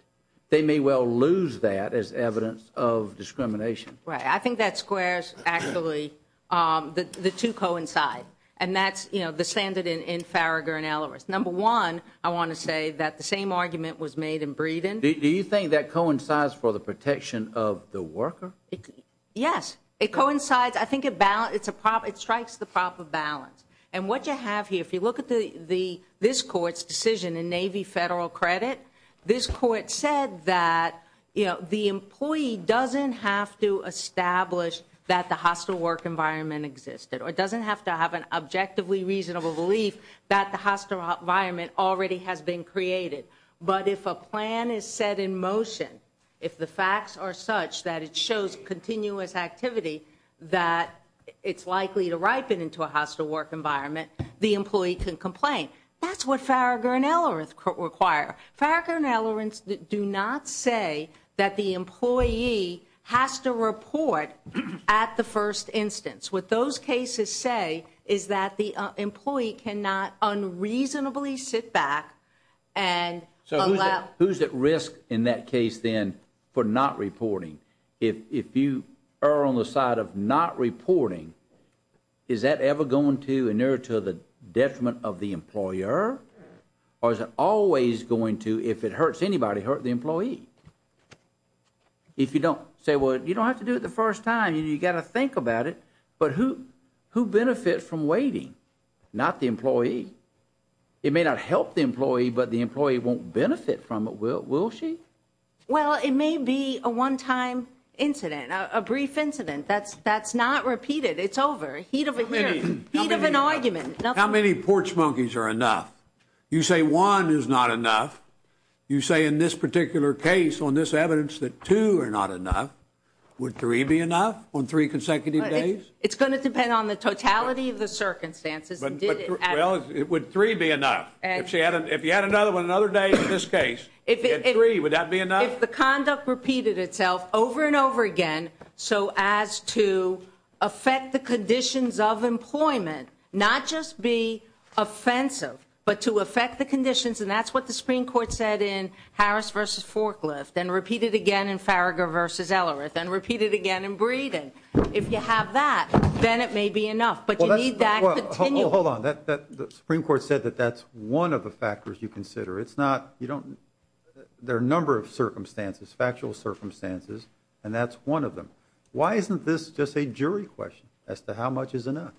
they may well lose that as evidence of discrimination? Right. I think that squares actually – the two coincide. And that's, you know, the standard in Farragher and Ellworth. Number one, I want to say that the same argument was made in Breeden. Do you think that coincides for the protection of the worker? Yes. It coincides. I think it strikes the proper balance. And what you have here, if you look at this court's decision, the Navy Federal Credit, this court said that, you know, the employee doesn't have to establish that the hostile work environment existed or doesn't have to have an objectively reasonable belief that the hostile environment already has been created. But if a plan is set in motion, if the facts are such that it shows continuous activity that it's likely to ripen into a hostile work environment, the employee can complain. That's what Farragher and Ellworth require. Farragher and Ellworth do not say that the employee has to report at the first instance. What those cases say is that the employee cannot unreasonably sit back and allow – So who's at risk in that case then for not reporting? If you are on the side of not reporting, is that ever going to inherit to the detriment of the employer? Or is it always going to, if it hurts anybody, hurt the employee? If you don't say, well, you don't have to do it the first time, you've got to think about it. But who benefits from waiting? Not the employee. It may not help the employee, but the employee won't benefit from it, will she? Well, it may be a one-time incident, a brief incident. That's not repeated. It's over. Heat of the hearing. Heat of an argument. How many porch monkeys are enough? You say one is not enough. You say in this particular case on this evidence that two are not enough. Would three be enough on three consecutive days? It's going to depend on the totality of the circumstances. Well, would three be enough? If you had another one another day in this case, three, would that be enough? If the conduct repeated itself over and over again so as to affect the conditions of employment, not just be offensive but to affect the conditions, and that's what the Supreme Court said in Harris v. Forklift and repeated again in Farragher v. Ellerith and repeated again in Breeding. If you have that, then it may be enough. But you need that to continue. Well, hold on. The Supreme Court said that that's one of the factors you consider. It's not you don't there are a number of circumstances, factual circumstances, and that's one of them. Why isn't this just a jury question as to how much is enough?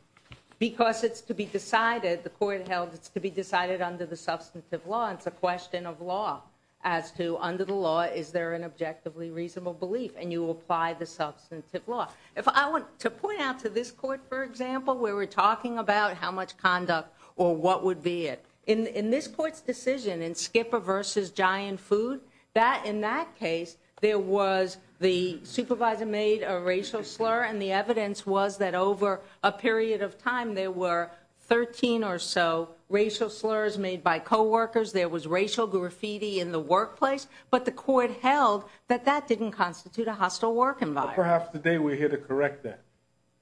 Because it's to be decided, the court held it's to be decided under the substance of law. It's a question of law as to under the law, is there an objectively reasonable belief? And you apply the substance of law. To point out to this court, for example, where we're talking about how much conduct or what would be it, in this court's decision in Skipper v. Giant Food, that in that case, there was the supervisor made a racial slur, and the evidence was that over a period of time, there were 13 or so racial slurs made by coworkers. There was racial graffiti in the workplace. But the court held that that didn't constitute a hostile work environment. Perhaps today we're here to correct that.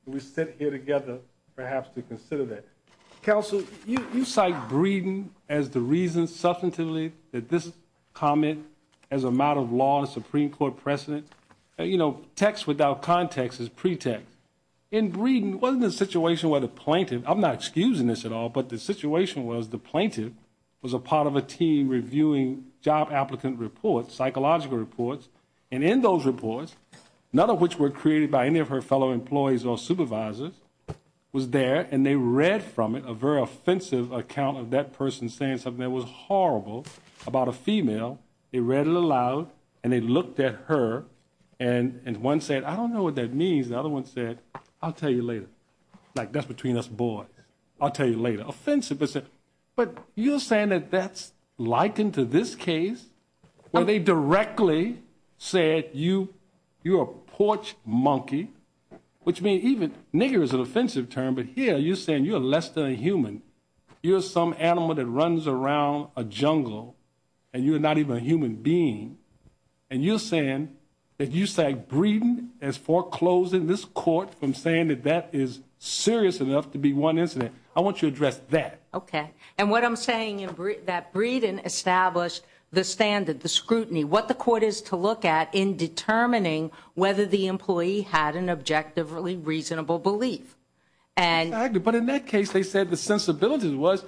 We sit here together perhaps to consider that. Counsel, you cite Breeding as the reason substantively that this comment as a matter of law and Supreme Court precedent. Text without context is pretext. In Breeding, it wasn't a situation where the plaintiff, I'm not excusing this at all, but the situation was the plaintiff was a part of a team reviewing job applicant reports, psychological reports. And in those reports, none of which were created by any of her fellow employees or supervisors, was there, and they read from it a very offensive account of that person saying something that was horrible about a female. They read it aloud, and they looked at her, and one said, I don't know what that means. The other one said, I'll tell you later. Like, that's between us boys. I'll tell you later. Offensive. But you're saying that that's likened to this case where they directly said you're a porch monkey, which may even, nigger is an offensive term, but here you're saying you're less than a human. You're some animal that runs around a jungle, and you're not even a human being, and you're saying that you say Breeding is foreclosing this court from saying that that is serious enough to be one incident. I want you to address that. Okay. And what I'm saying is that Breeding established the standard, the scrutiny, what the court is to look at in determining whether the employee had an objectively reasonable belief. But in that case, they said the sensibilities was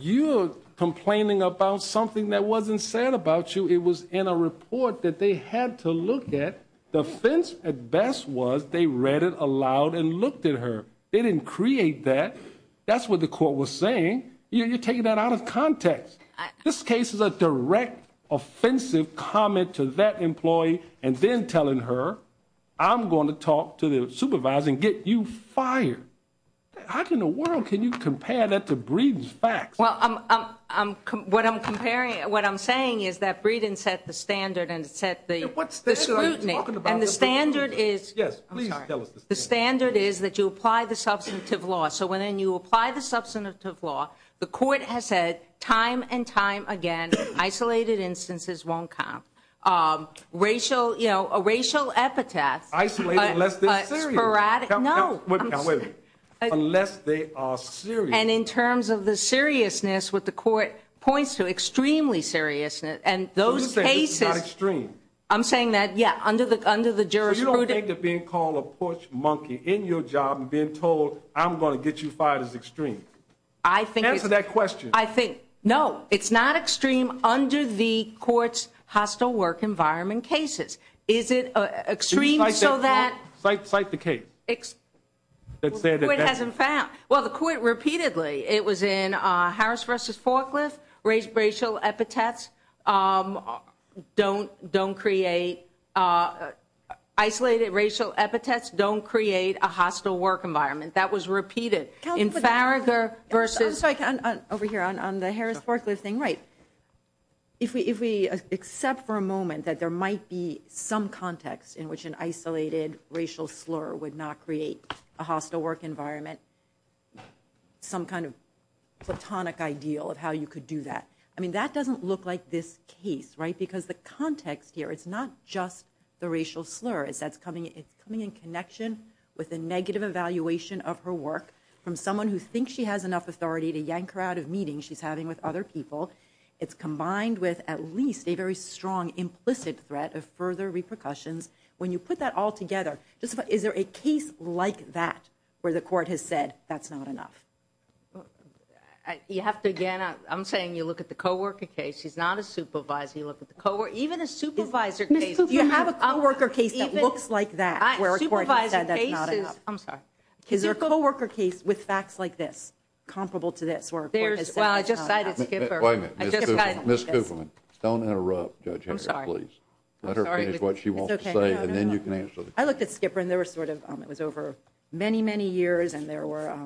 you're complaining about something that wasn't said about you. It was in a report that they had to look at. The offense at best was they read it aloud and looked at her. They didn't create that. That's what the court was saying. You're taking that out of context. This case is a direct offensive comment to that employee and then telling her, I'm going to talk to the supervisor and get you fired. How in the world can you compare that to Breeding's facts? Well, what I'm saying is that Breeding set the standard and set the scrutiny. And the standard is that you apply the substantive law. So when you apply the substantive law, the court has said time and time again isolated instances won't count. A racial epithet. Isolated unless they're serious. No. Now, wait a minute. Unless they are serious. And in terms of the seriousness, what the court points to, extremely seriousness, and those cases. So you're saying it's not extreme. I'm saying that, yeah, under the jurisdiction. You don't think of being called a push monkey in your job and being told, I'm going to get you fired is extreme. Answer that question. I think, no, it's not extreme under the court's hostile work environment cases. Is it extreme so that. Fight the case. Well, the court repeatedly, it was in Harris v. Forkless, racial epithets don't create isolated racial epithets don't create a hostile work environment. That was repeated. I'm sorry, over here on the Harris-Forkless thing. Right. If we accept for a moment that there might be some context in which an isolated racial slur would not create a hostile work environment, some kind of platonic ideal of how you could do that. I mean, that doesn't look like this case. Right. From someone who thinks she has enough authority to yank her out of meetings she's having with other people. It's combined with at least a very strong implicit threat of further repercussions. When you put that all together, is there a case like that where the court has said that's not enough? You have to, again, I'm saying you look at the coworker case. She's not a supervisor. You look at the coworker, even a supervisor case. You have a coworker case that looks like that where a court has said that's not enough. I'm sorry. Is there a coworker case with facts like this comparable to this where a court has said that's not enough? Wait a minute. Ms. Kupferman, don't interrupt Judge Harris, please. Let her finish what she wants to say and then you can answer the question. I looked at Skipper and there was sort of, it was over many, many years and there were,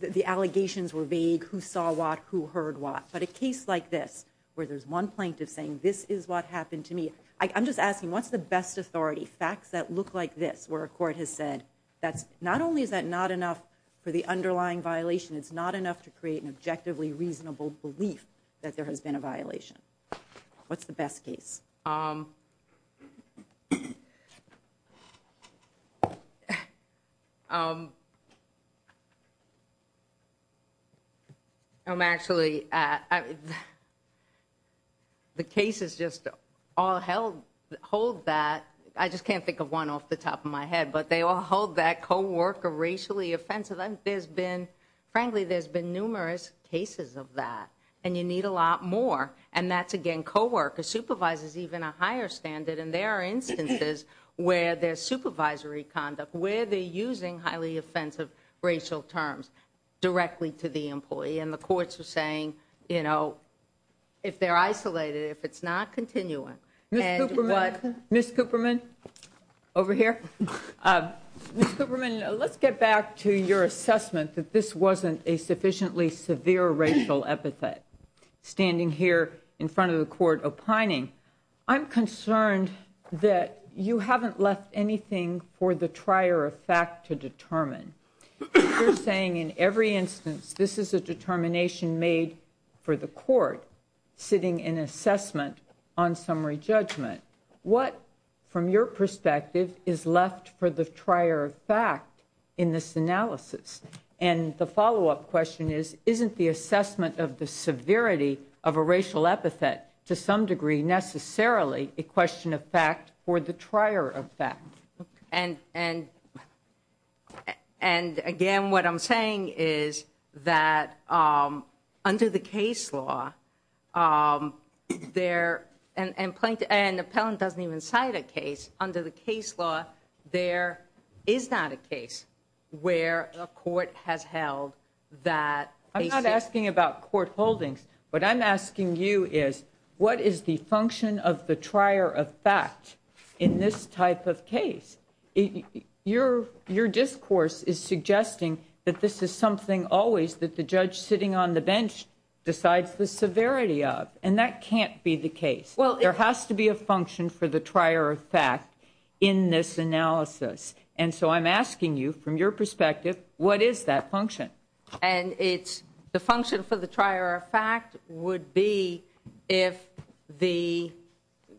the allegations were vague, who saw what, who heard what. But a case like this where there's one plaintiff saying this is what happened to me, I'm just asking what's the best authority? Facts that look like this where a court has said that not only is that not enough for the underlying violation, it's not enough to create an objectively reasonable belief that there has been a violation. What's the best case? Actually, the cases just all hold that. I just can't think of one off the top of my head, but they all hold that coworker racially offensive. There's been, frankly, there's been numerous cases of that. And you need a lot more. And that's, again, coworker supervises even a higher standard. And there are instances where there's supervisory conduct, where they're using highly offensive racial terms directly to the employee. And the courts are saying, you know, if they're isolated, if it's not continuing. Ms. Kupferman, over here. Ms. Kupferman, let's get back to your assessment that this wasn't a sufficiently severe racial epithet. Standing here in front of the court opining, I'm concerned that you haven't left anything for the trier of fact to determine. You're saying in every instance, this is a determination made for the court sitting in assessment on summary judgment. What, from your perspective, is left for the trier of fact in this analysis? And the follow-up question is, isn't the assessment of the severity of a racial epithet to some degree necessarily a question of fact for the trier of fact? And, again, what I'm saying is that under the case law, there – and an appellant doesn't even cite a case. Under the case law, there is not a case where a court has held that – Your discourse is suggesting that this is something always that the judge sitting on the bench decides the severity of, and that can't be the case. There has to be a function for the trier of fact in this analysis. And so I'm asking you, from your perspective, what is that function? And it's – the function for the trier of fact would be if the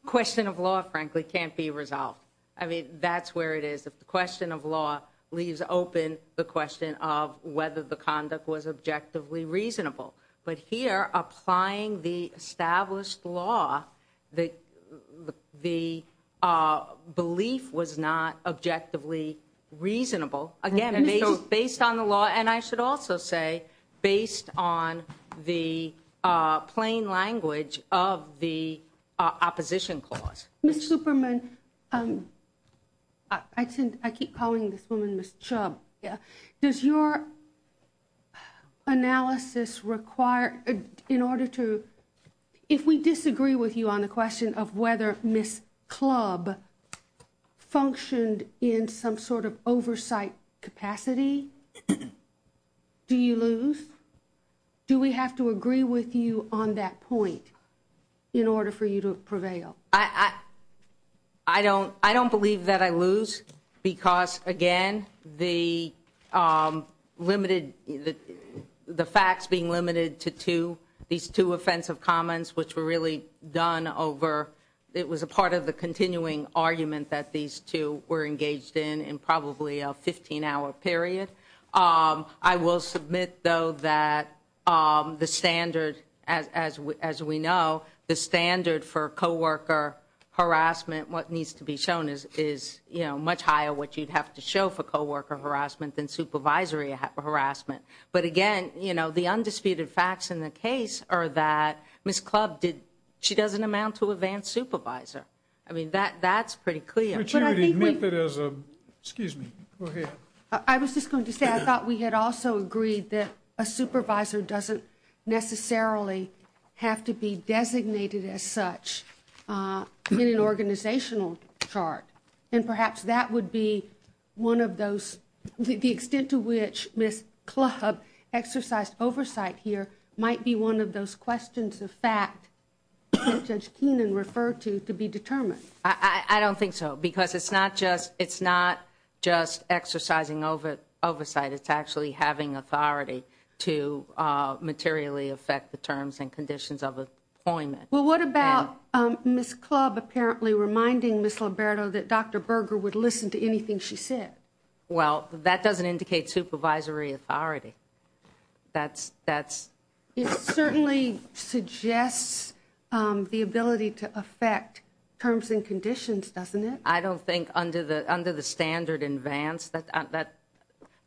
question of law, frankly, can't be resolved. I mean, that's where it is. If the question of law leaves open the question of whether the conduct was objectively reasonable. But here, applying the established law, the belief was not objectively reasonable. Again, based on the law, and I should also say based on the plain language of the opposition clause. Ms. Zuperman, I keep calling this woman Ms. Chubb. Does your analysis require – in order to – if we disagree with you on the question of whether Ms. Clubb functioned in some sort of oversight capacity, do you lose? Do we have to agree with you on that point in order for you to prevail? I don't believe that I lose because, again, the limited – the facts being limited to two, these two offensive comments, which were really done over – it was a part of the continuing argument that these two were engaged in in probably a 15-hour period. I will submit, though, that the standard, as we know, the standard for coworker harassment, what needs to be shown is, you know, much higher what you'd have to show for coworker harassment than supervisory harassment. But again, you know, the undisputed facts in the case are that Ms. Clubb did – she doesn't amount to advanced supervisor. I mean, that's pretty clear. Excuse me. I was just going to say I thought we had also agreed that a supervisor doesn't necessarily have to be designated as such in an organizational chart. And perhaps that would be one of those – the extent to which Ms. Clubb exercised oversight here might be one of those questions of fact that Judge Keenan referred to to be determined. I don't think so because it's not just – it's not just exercising oversight. It's actually having authority to materially affect the terms and conditions of appointment. Well, what about Ms. Clubb apparently reminding Ms. Liberto that Dr. Berger would listen to anything she said? Well, that doesn't indicate supervisory authority. That's – that's – It certainly suggests the ability to affect terms and conditions, doesn't it? I don't think under the – under the standard in Vance, that's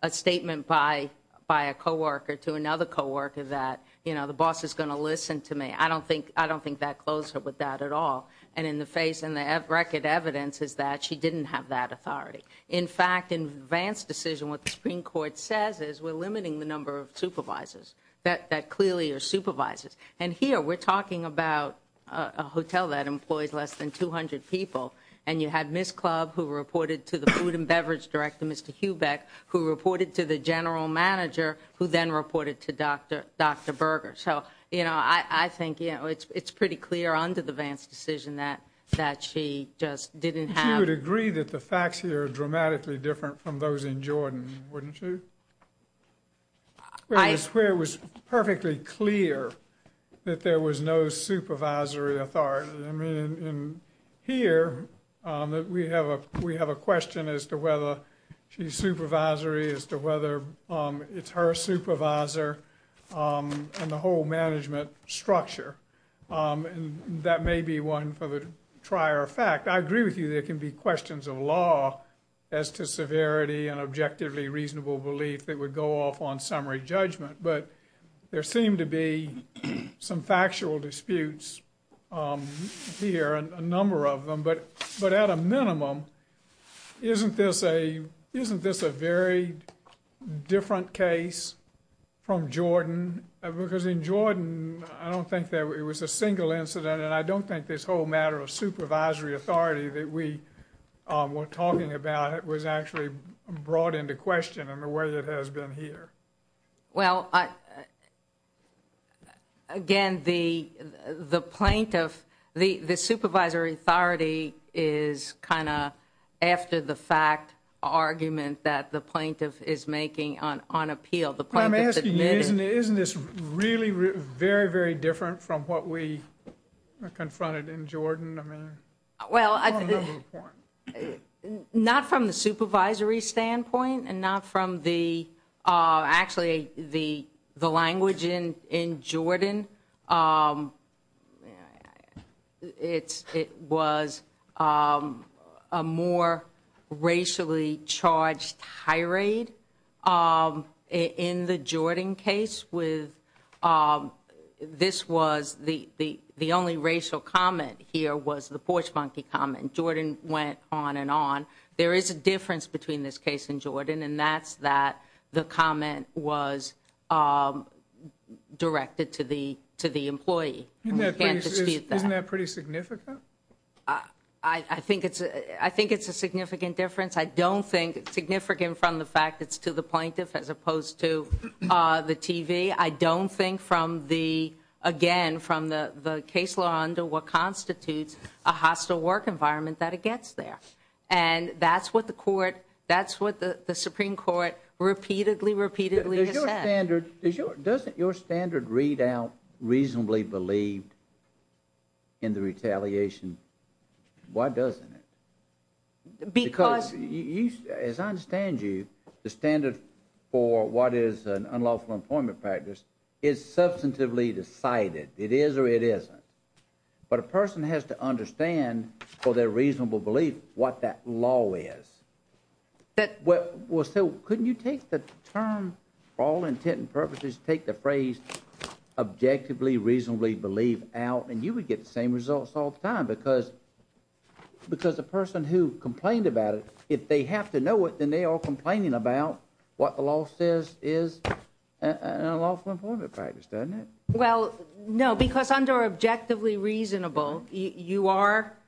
a statement by a coworker to another coworker that, you know, the boss is going to listen to me. I don't think – I don't think that goes with that at all. And in the face – and the record evidence is that she didn't have that authority. In fact, in Vance's decision, what the Supreme Court says is we're limiting the number of supervisors that clearly are supervisors. And here, we're talking about a hotel that employs less than 200 people. And you had Ms. Clubb, who reported to the food and beverage director, Mr. Hubeck, who reported to the general manager, who then reported to Dr. Berger. So, you know, I think, you know, it's pretty clear under the Vance decision that she just didn't have – You would agree that the facts here are dramatically different from those in Jordan, wouldn't you? I – Where it was perfectly clear that there was no supervisory authority. I mean, in here, we have a – we have a question as to whether she's supervisory, as to whether it's her supervisor, and the whole management structure. And that may be one for the prior fact. I agree with you there can be questions of law as to severity and objectively reasonable belief that would go off on summary judgment. But there seem to be some factual disputes here, a number of them. But at a minimum, isn't this a – isn't this a very different case from Jordan? Because in Jordan, I don't think there – it was a single incident. And I don't think this whole matter of supervisory authority that we were talking about was actually brought into question in the way that it has been here. Well, again, the plaintiff – the supervisory authority is kind of after the fact argument that the plaintiff is making on appeal. I'm asking you, isn't this really very, very different from what we confronted in Jordan? Well, not from the supervisory standpoint and not from the – actually, the language in Jordan. It was a more racially charged tirade in the Jordan case with – this was – the only racial comment here was the porch monkey comment. Jordan went on and on. There is a difference between this case in Jordan, and that's that the comment was directed to the employee. Isn't that pretty significant? I think it's a significant difference. I don't think – significant from the fact it's to the plaintiff as opposed to the TV. I don't think from the – again, from the case law under what constitutes a hostile work environment that it gets there. And that's what the court – that's what the Supreme Court repeatedly, repeatedly has said. Is your standard – doesn't your standard readout reasonably believe in the retaliation? Why doesn't it? Because you – as I understand you, the standard for what is an unlawful employment practice is substantively decided. It is or it isn't. But a person has to understand for their reasonable belief what that law is. So couldn't you take the term for all intent and purposes, take the phrase objectively, reasonably believe out, and you would get the same results all the time? Because the person who complained about it, if they have to know it, then they are complaining about what the law says is an unlawful employment practice, doesn't it? Well, no, because under objectively reasonable, you are –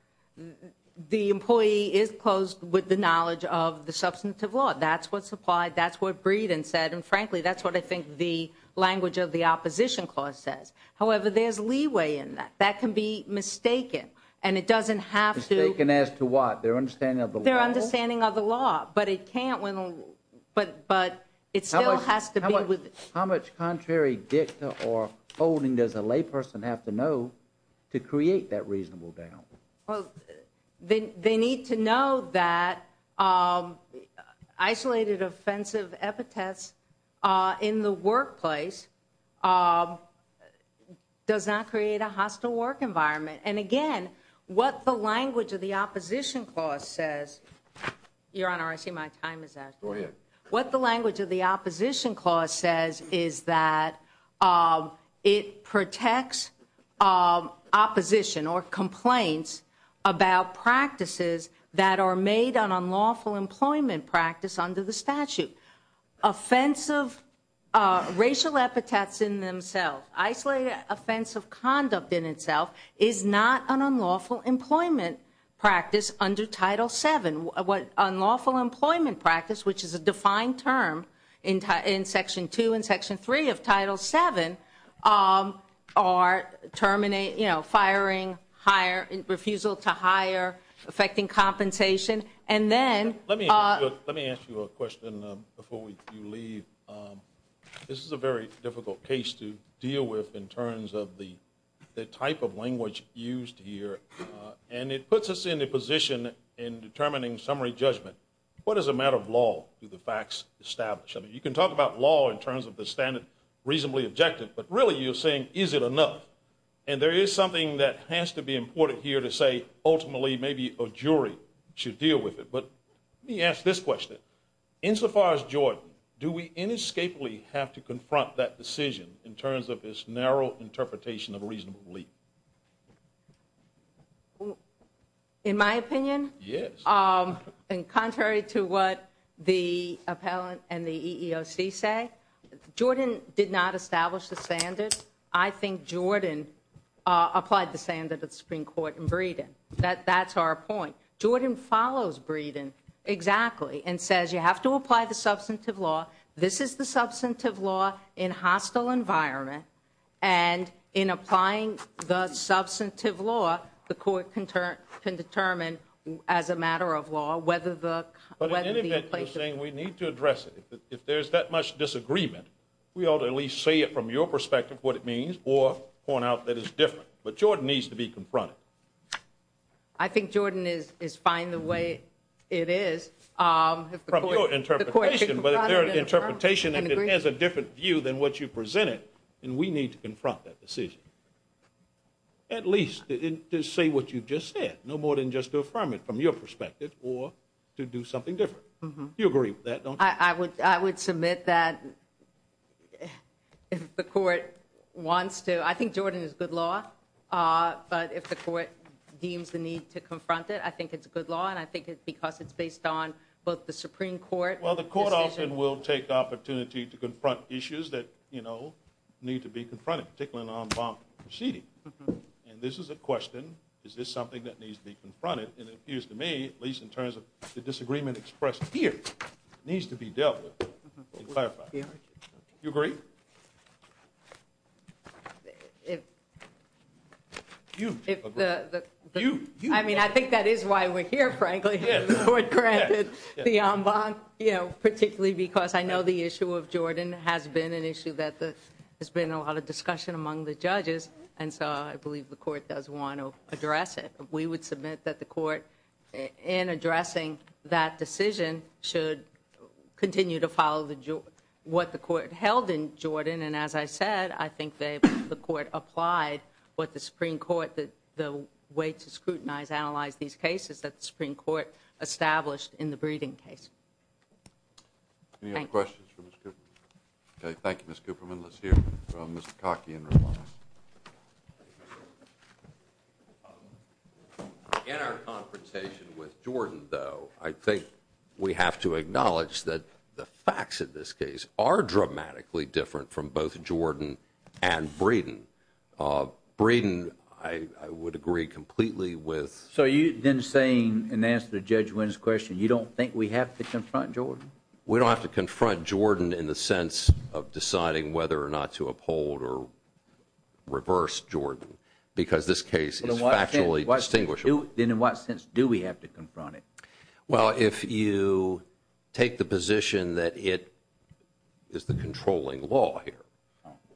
the employee is closed with the knowledge of the substantive law. That's what's applied. That's what Breeden said. And frankly, that's what I think the language of the opposition court said. However, there's leeway in that. That can be mistaken. And it doesn't have to – Mistaken as to what? Their understanding of the law? Their understanding of the law. But it can't when – but it still has to be with – How much contrary dicta or holding does a layperson have to know to create that reasonable doubt? Well, they need to know that isolated offensive epitaphs in the workplace does not create a hostile work environment. And again, what the language of the opposition clause says – Your Honor, I see my time is up. Go ahead. What the language of the opposition clause says is that it protects opposition or complaints about practices that are made an unlawful employment practice under the statute. Offensive racial epitaphs in themselves, isolated offensive conduct in itself is not an unlawful employment practice under Title VII. Unlawful employment practice, which is a defined term in Section 2 and Section 3 of Title VII, are terminating – you know, firing, refusal to hire, affecting compensation. And then – Let me ask you a question before we leave. This is a very difficult case to deal with in terms of the type of language used here. And it puts us in a position in determining summary judgment. What is a matter of law do the facts establish? I mean, you can talk about law in terms of the standard reasonably objective, but really you're saying is it enough? And there is something that has to be important here to say ultimately maybe a jury should deal with it. But let me ask this question. Insofar as Jordan, do we inescapably have to confront that decision in terms of this narrow interpretation of reasonable belief? In my opinion? Yes. In contrary to what the appellant and the EEOC say, Jordan did not establish the standard. I think Jordan applied the standard of the Supreme Court in Breedon. That's our point. Jordan follows Breedon exactly and says you have to apply the substantive law. This is the substantive law in hostile environment. And in applying the substantive law, the court can determine as a matter of law whether the... But in any event, you're saying we need to address it. If there's that much disagreement, we ought to at least say it from your perspective what it means or point out that it's different. But Jordan needs to be confronted. I think Jordan is fine the way it is. From your interpretation, but there's an interpretation that has a different view than what you presented, and we need to confront that decision. At least to say what you just said, no more than just to affirm it from your perspective or to do something different. You agree with that, don't you? I would submit that if the court wants to. I think Jordan is good law. But if the court deems the need to confront it, I think it's good law. And I think it's because it's based on both the Supreme Court... Well, the court often will take the opportunity to confront issues that need to be confronted, particularly in an en banc proceeding. And this is a question, is this something that needs to be confronted? And it appears to me, at least in terms of the disagreement expressed here, it needs to be dealt with and clarified. You agree? I mean, I think that is why we're here, frankly. Particularly because I know the issue of Jordan has been an issue that there's been a lot of discussion among the judges. And so I believe the court does want to address it. We would submit that the court, in addressing that decision, should continue to follow what the court held in Jordan. And as I said, I think the court applied what the Supreme Court, the way to scrutinize, analyze these cases, that the Supreme Court established in the Breeding case. Any other questions for Ms. Cooperman? Okay, thank you, Ms. Cooperman. Let's hear from Mr. Cockey in response. In our confrontation with Jordan, though, I think we have to acknowledge that the facts of this case are dramatically different from both Jordan and Breeding. Breeding, I would agree completely with. So are you then saying, in answer to Judge Wynn's question, you don't think we have to confront Jordan? We don't have to confront Jordan in the sense of deciding whether or not to uphold or reverse Jordan. Because this case is factually distinguishable. Then in what sense do we have to confront it? Well, if you take the position that it is the controlling law here.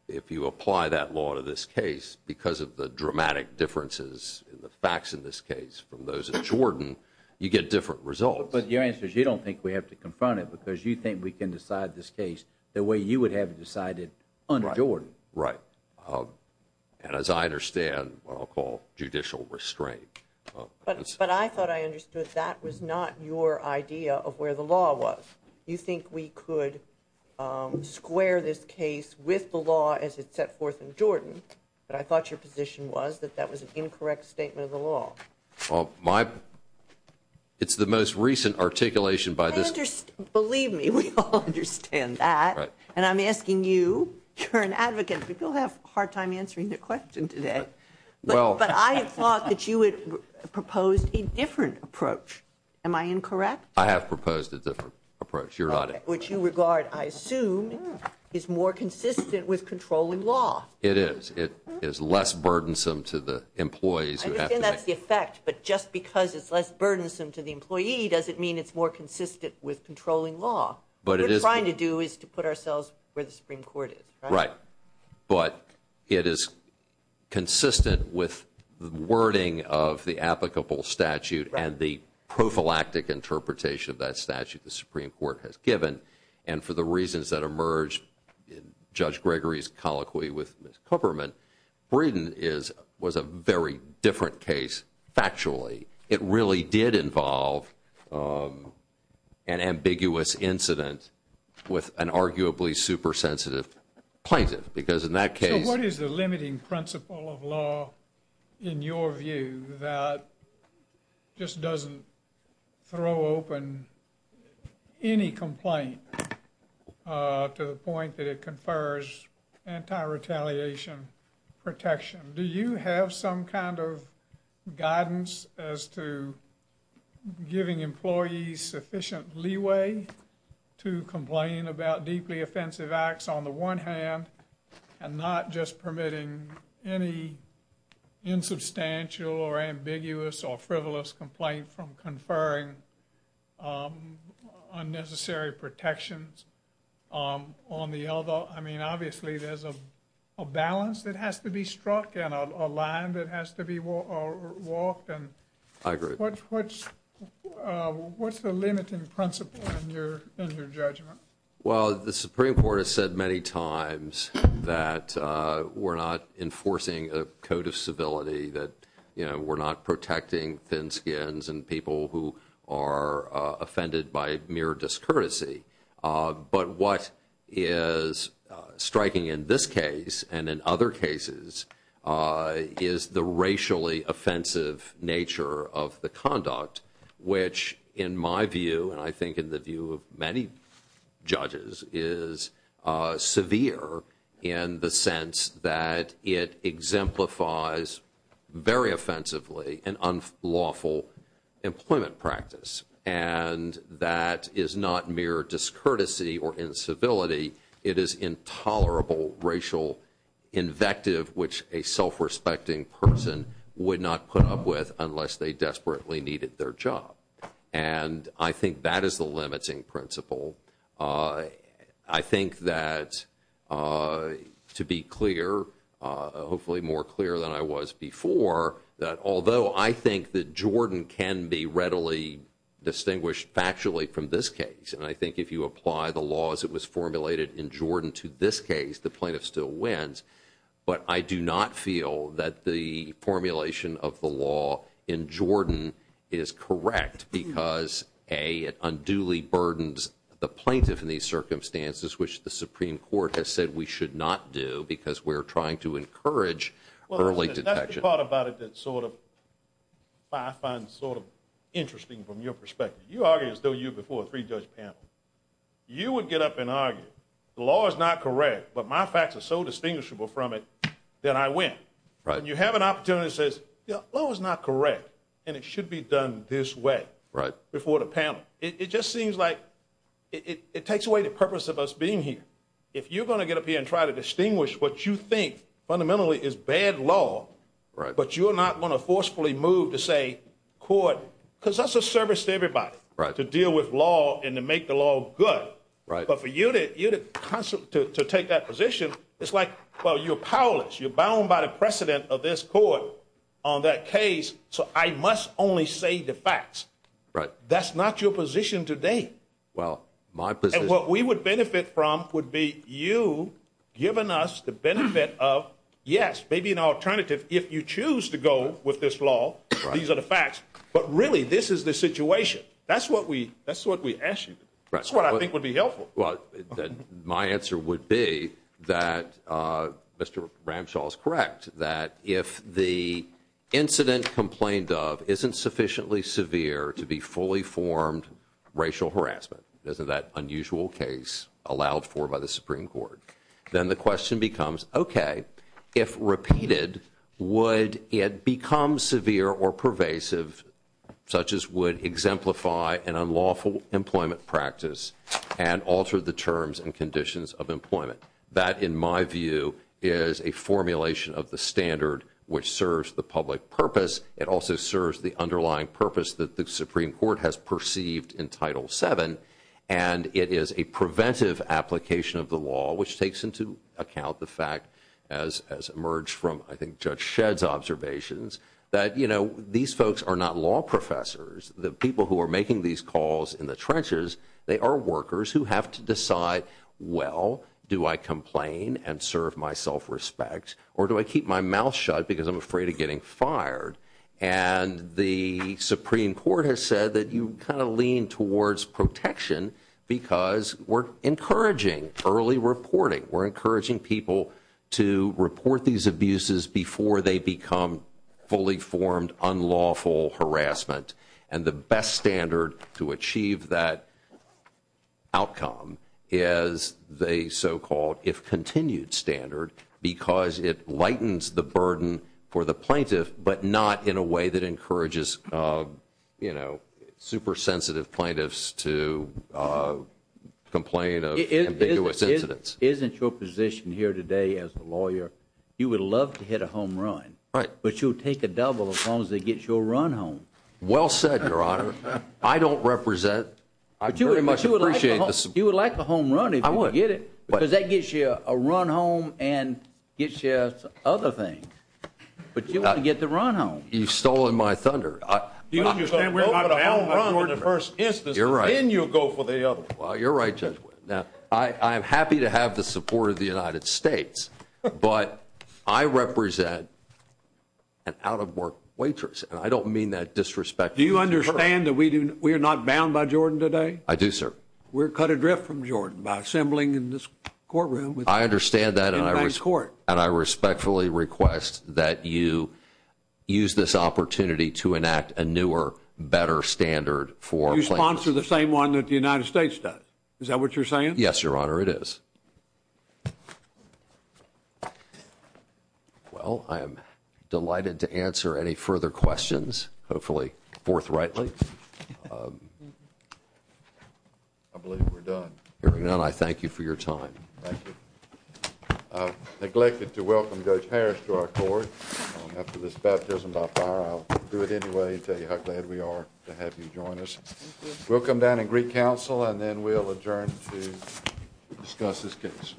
If you apply that law to this case, because of the dramatic differences in the facts in this case from those in Jordan, you get different results. But the answer is you don't think we have to confront it because you think we can decide this case the way you would have decided under Jordan. Right. And as I understand, what I'll call judicial restraint. But I thought I understood that was not your idea of where the law was. You think we could square this case with the law as it's set forth in Jordan, but I thought your position was that that was an incorrect statement of the law. Well, my – it's the most recent articulation by this – Believe me, we all understand that. And I'm asking you, you're an advocate. We still have a hard time answering your question today. But I have thought that you had proposed a different approach. Am I incorrect? I have proposed a different approach. You're right. Which you regard, I assume, is more consistent with controlling law. It is. It is less burdensome to the employees. And that's the effect. But just because it's less burdensome to the employee doesn't mean it's more consistent with controlling law. What we're trying to do is to put ourselves where the Supreme Court is. Right. But it is consistent with the wording of the applicable statute and the prophylactic interpretation of that statute the Supreme Court has given. And for the reasons that emerged in Judge Gregory's colloquy with Ms. Kupferman, Bredin was a very different case factually. It really did involve an ambiguous incident with an arguably super sensitive plaintiff. Because in that case – So what is the limiting principle of law in your view that just doesn't throw open any complaint to the point that it confers anti-retaliation protection? Do you have some kind of guidance as to giving employees sufficient leeway to complain about deeply offensive acts on the one hand and not just permitting any insubstantial or ambiguous or frivolous complaint from conferring unnecessary protections on the other? Well, I mean, obviously there's a balance that has to be struck and a line that has to be walked. I agree. What's the limiting principle in your judgment? Well, the Supreme Court has said many times that we're not enforcing a code of civility, that we're not protecting thin skins and people who are offended by mere discourtesy. But what is striking in this case and in other cases is the racially offensive nature of the conduct, which in my view and I think in the view of many judges is severe in the sense that it exemplifies very offensively an unlawful employment practice. And that is not mere discourtesy or incivility. It is intolerable racial invective, which a self-respecting person would not put up with unless they desperately needed their job. And I think that is the limiting principle. I think that to be clear, hopefully more clear than I was before, that although I think that Jordan can be readily distinguished factually from this case, and I think if you apply the laws that was formulated in Jordan to this case, the plaintiff still wins. But I do not feel that the formulation of the law in Jordan is correct because, A, it unduly burdens the plaintiff in these circumstances, which the Supreme Court has said we should not do because we're trying to encourage early detection. Well, that's the part about it that sort of I find sort of interesting from your perspective. You argue as though you're before a three-judge panel. You would get up and argue the law is not correct, but my facts are so distinguishable from it that I win. You have an opportunity that says the law is not correct, and it should be done this way before the panel. It just seems like it takes away the purpose of us being here. If you're going to get up here and try to distinguish what you think fundamentally is bad law, but you're not going to forcefully move to say court, because that's a service to everybody to deal with law and to make the law good. But for you to take that position, it's like, well, you're powerless. You're bound by the precedent of this court on that case, so I must only say the facts. That's not your position today. And what we would benefit from would be you giving us the benefit of, yes, maybe an alternative if you choose to go with this law. These are the facts. But really, this is the situation. That's what we ask you. That's what I think would be helpful. Well, my answer would be that Mr. Ramshaw is correct, that if the incident complained of isn't sufficiently severe to be fully formed racial harassment, that unusual case allowed for by the Supreme Court, then the question becomes, okay, if repeated, would it become severe or pervasive, such as would exemplify an unlawful employment practice and alter the terms and conditions of employment? That, in my view, is a formulation of the standard which serves the public purpose. It also serves the underlying purpose that the Supreme Court has perceived in Title VII. And it is a preventive application of the law, which takes into account the fact, as emerged from, I think, Judge Shedd's observations, that these folks are not law professors. The people who are making these calls in the trenches, they are workers who have to decide, well, do I complain and serve my self-respect, or do I keep my mouth shut because I'm afraid of getting fired? And the Supreme Court has said that you kind of lean towards protection because we're encouraging early reporting. We're encouraging people to report these abuses before they become fully formed unlawful harassment. And the best standard to achieve that outcome is the so-called, if continued, standard because it lightens the burden for the plaintiff, but not in a way that encourages, you know, super sensitive plaintiffs to complain of ambiguous incidents. Isn't your position here today as a lawyer, you would love to hit a home run. Right. But you'll take a double as long as it gets your run home. Well said, Your Honor. I don't represent, I pretty much appreciate the support. You would like the home run if you could get it. I would. Because that gives you a run home and gives you other things. But you want to get the run home. You've stolen my thunder. You understand we're talking about a home run in the first instance. You're right. Then you go for the other. I'm happy to have the support of the United States, but I represent an out-of-work waitress. I don't mean that disrespectfully. Do you understand that we are not bound by Jordan today? I do, sir. We're cut adrift from Jordan by assembling in this courtroom. I understand that and I respectfully request that you use this opportunity to enact a newer, better standard for plaintiffs. Why don't you sponsor the same one that the United States does? Is that what you're saying? Yes, Your Honor, it is. Well, I am delighted to answer any further questions, hopefully forthrightly. I believe we're done. Hearing none, I thank you for your time. Thank you. Neglected to welcome Judge Parrish to our court after this baptism by fire. I'll do it anyway and tell you how glad we are to have you join us. We'll come down and greet counsel and then we'll adjourn to discuss this case.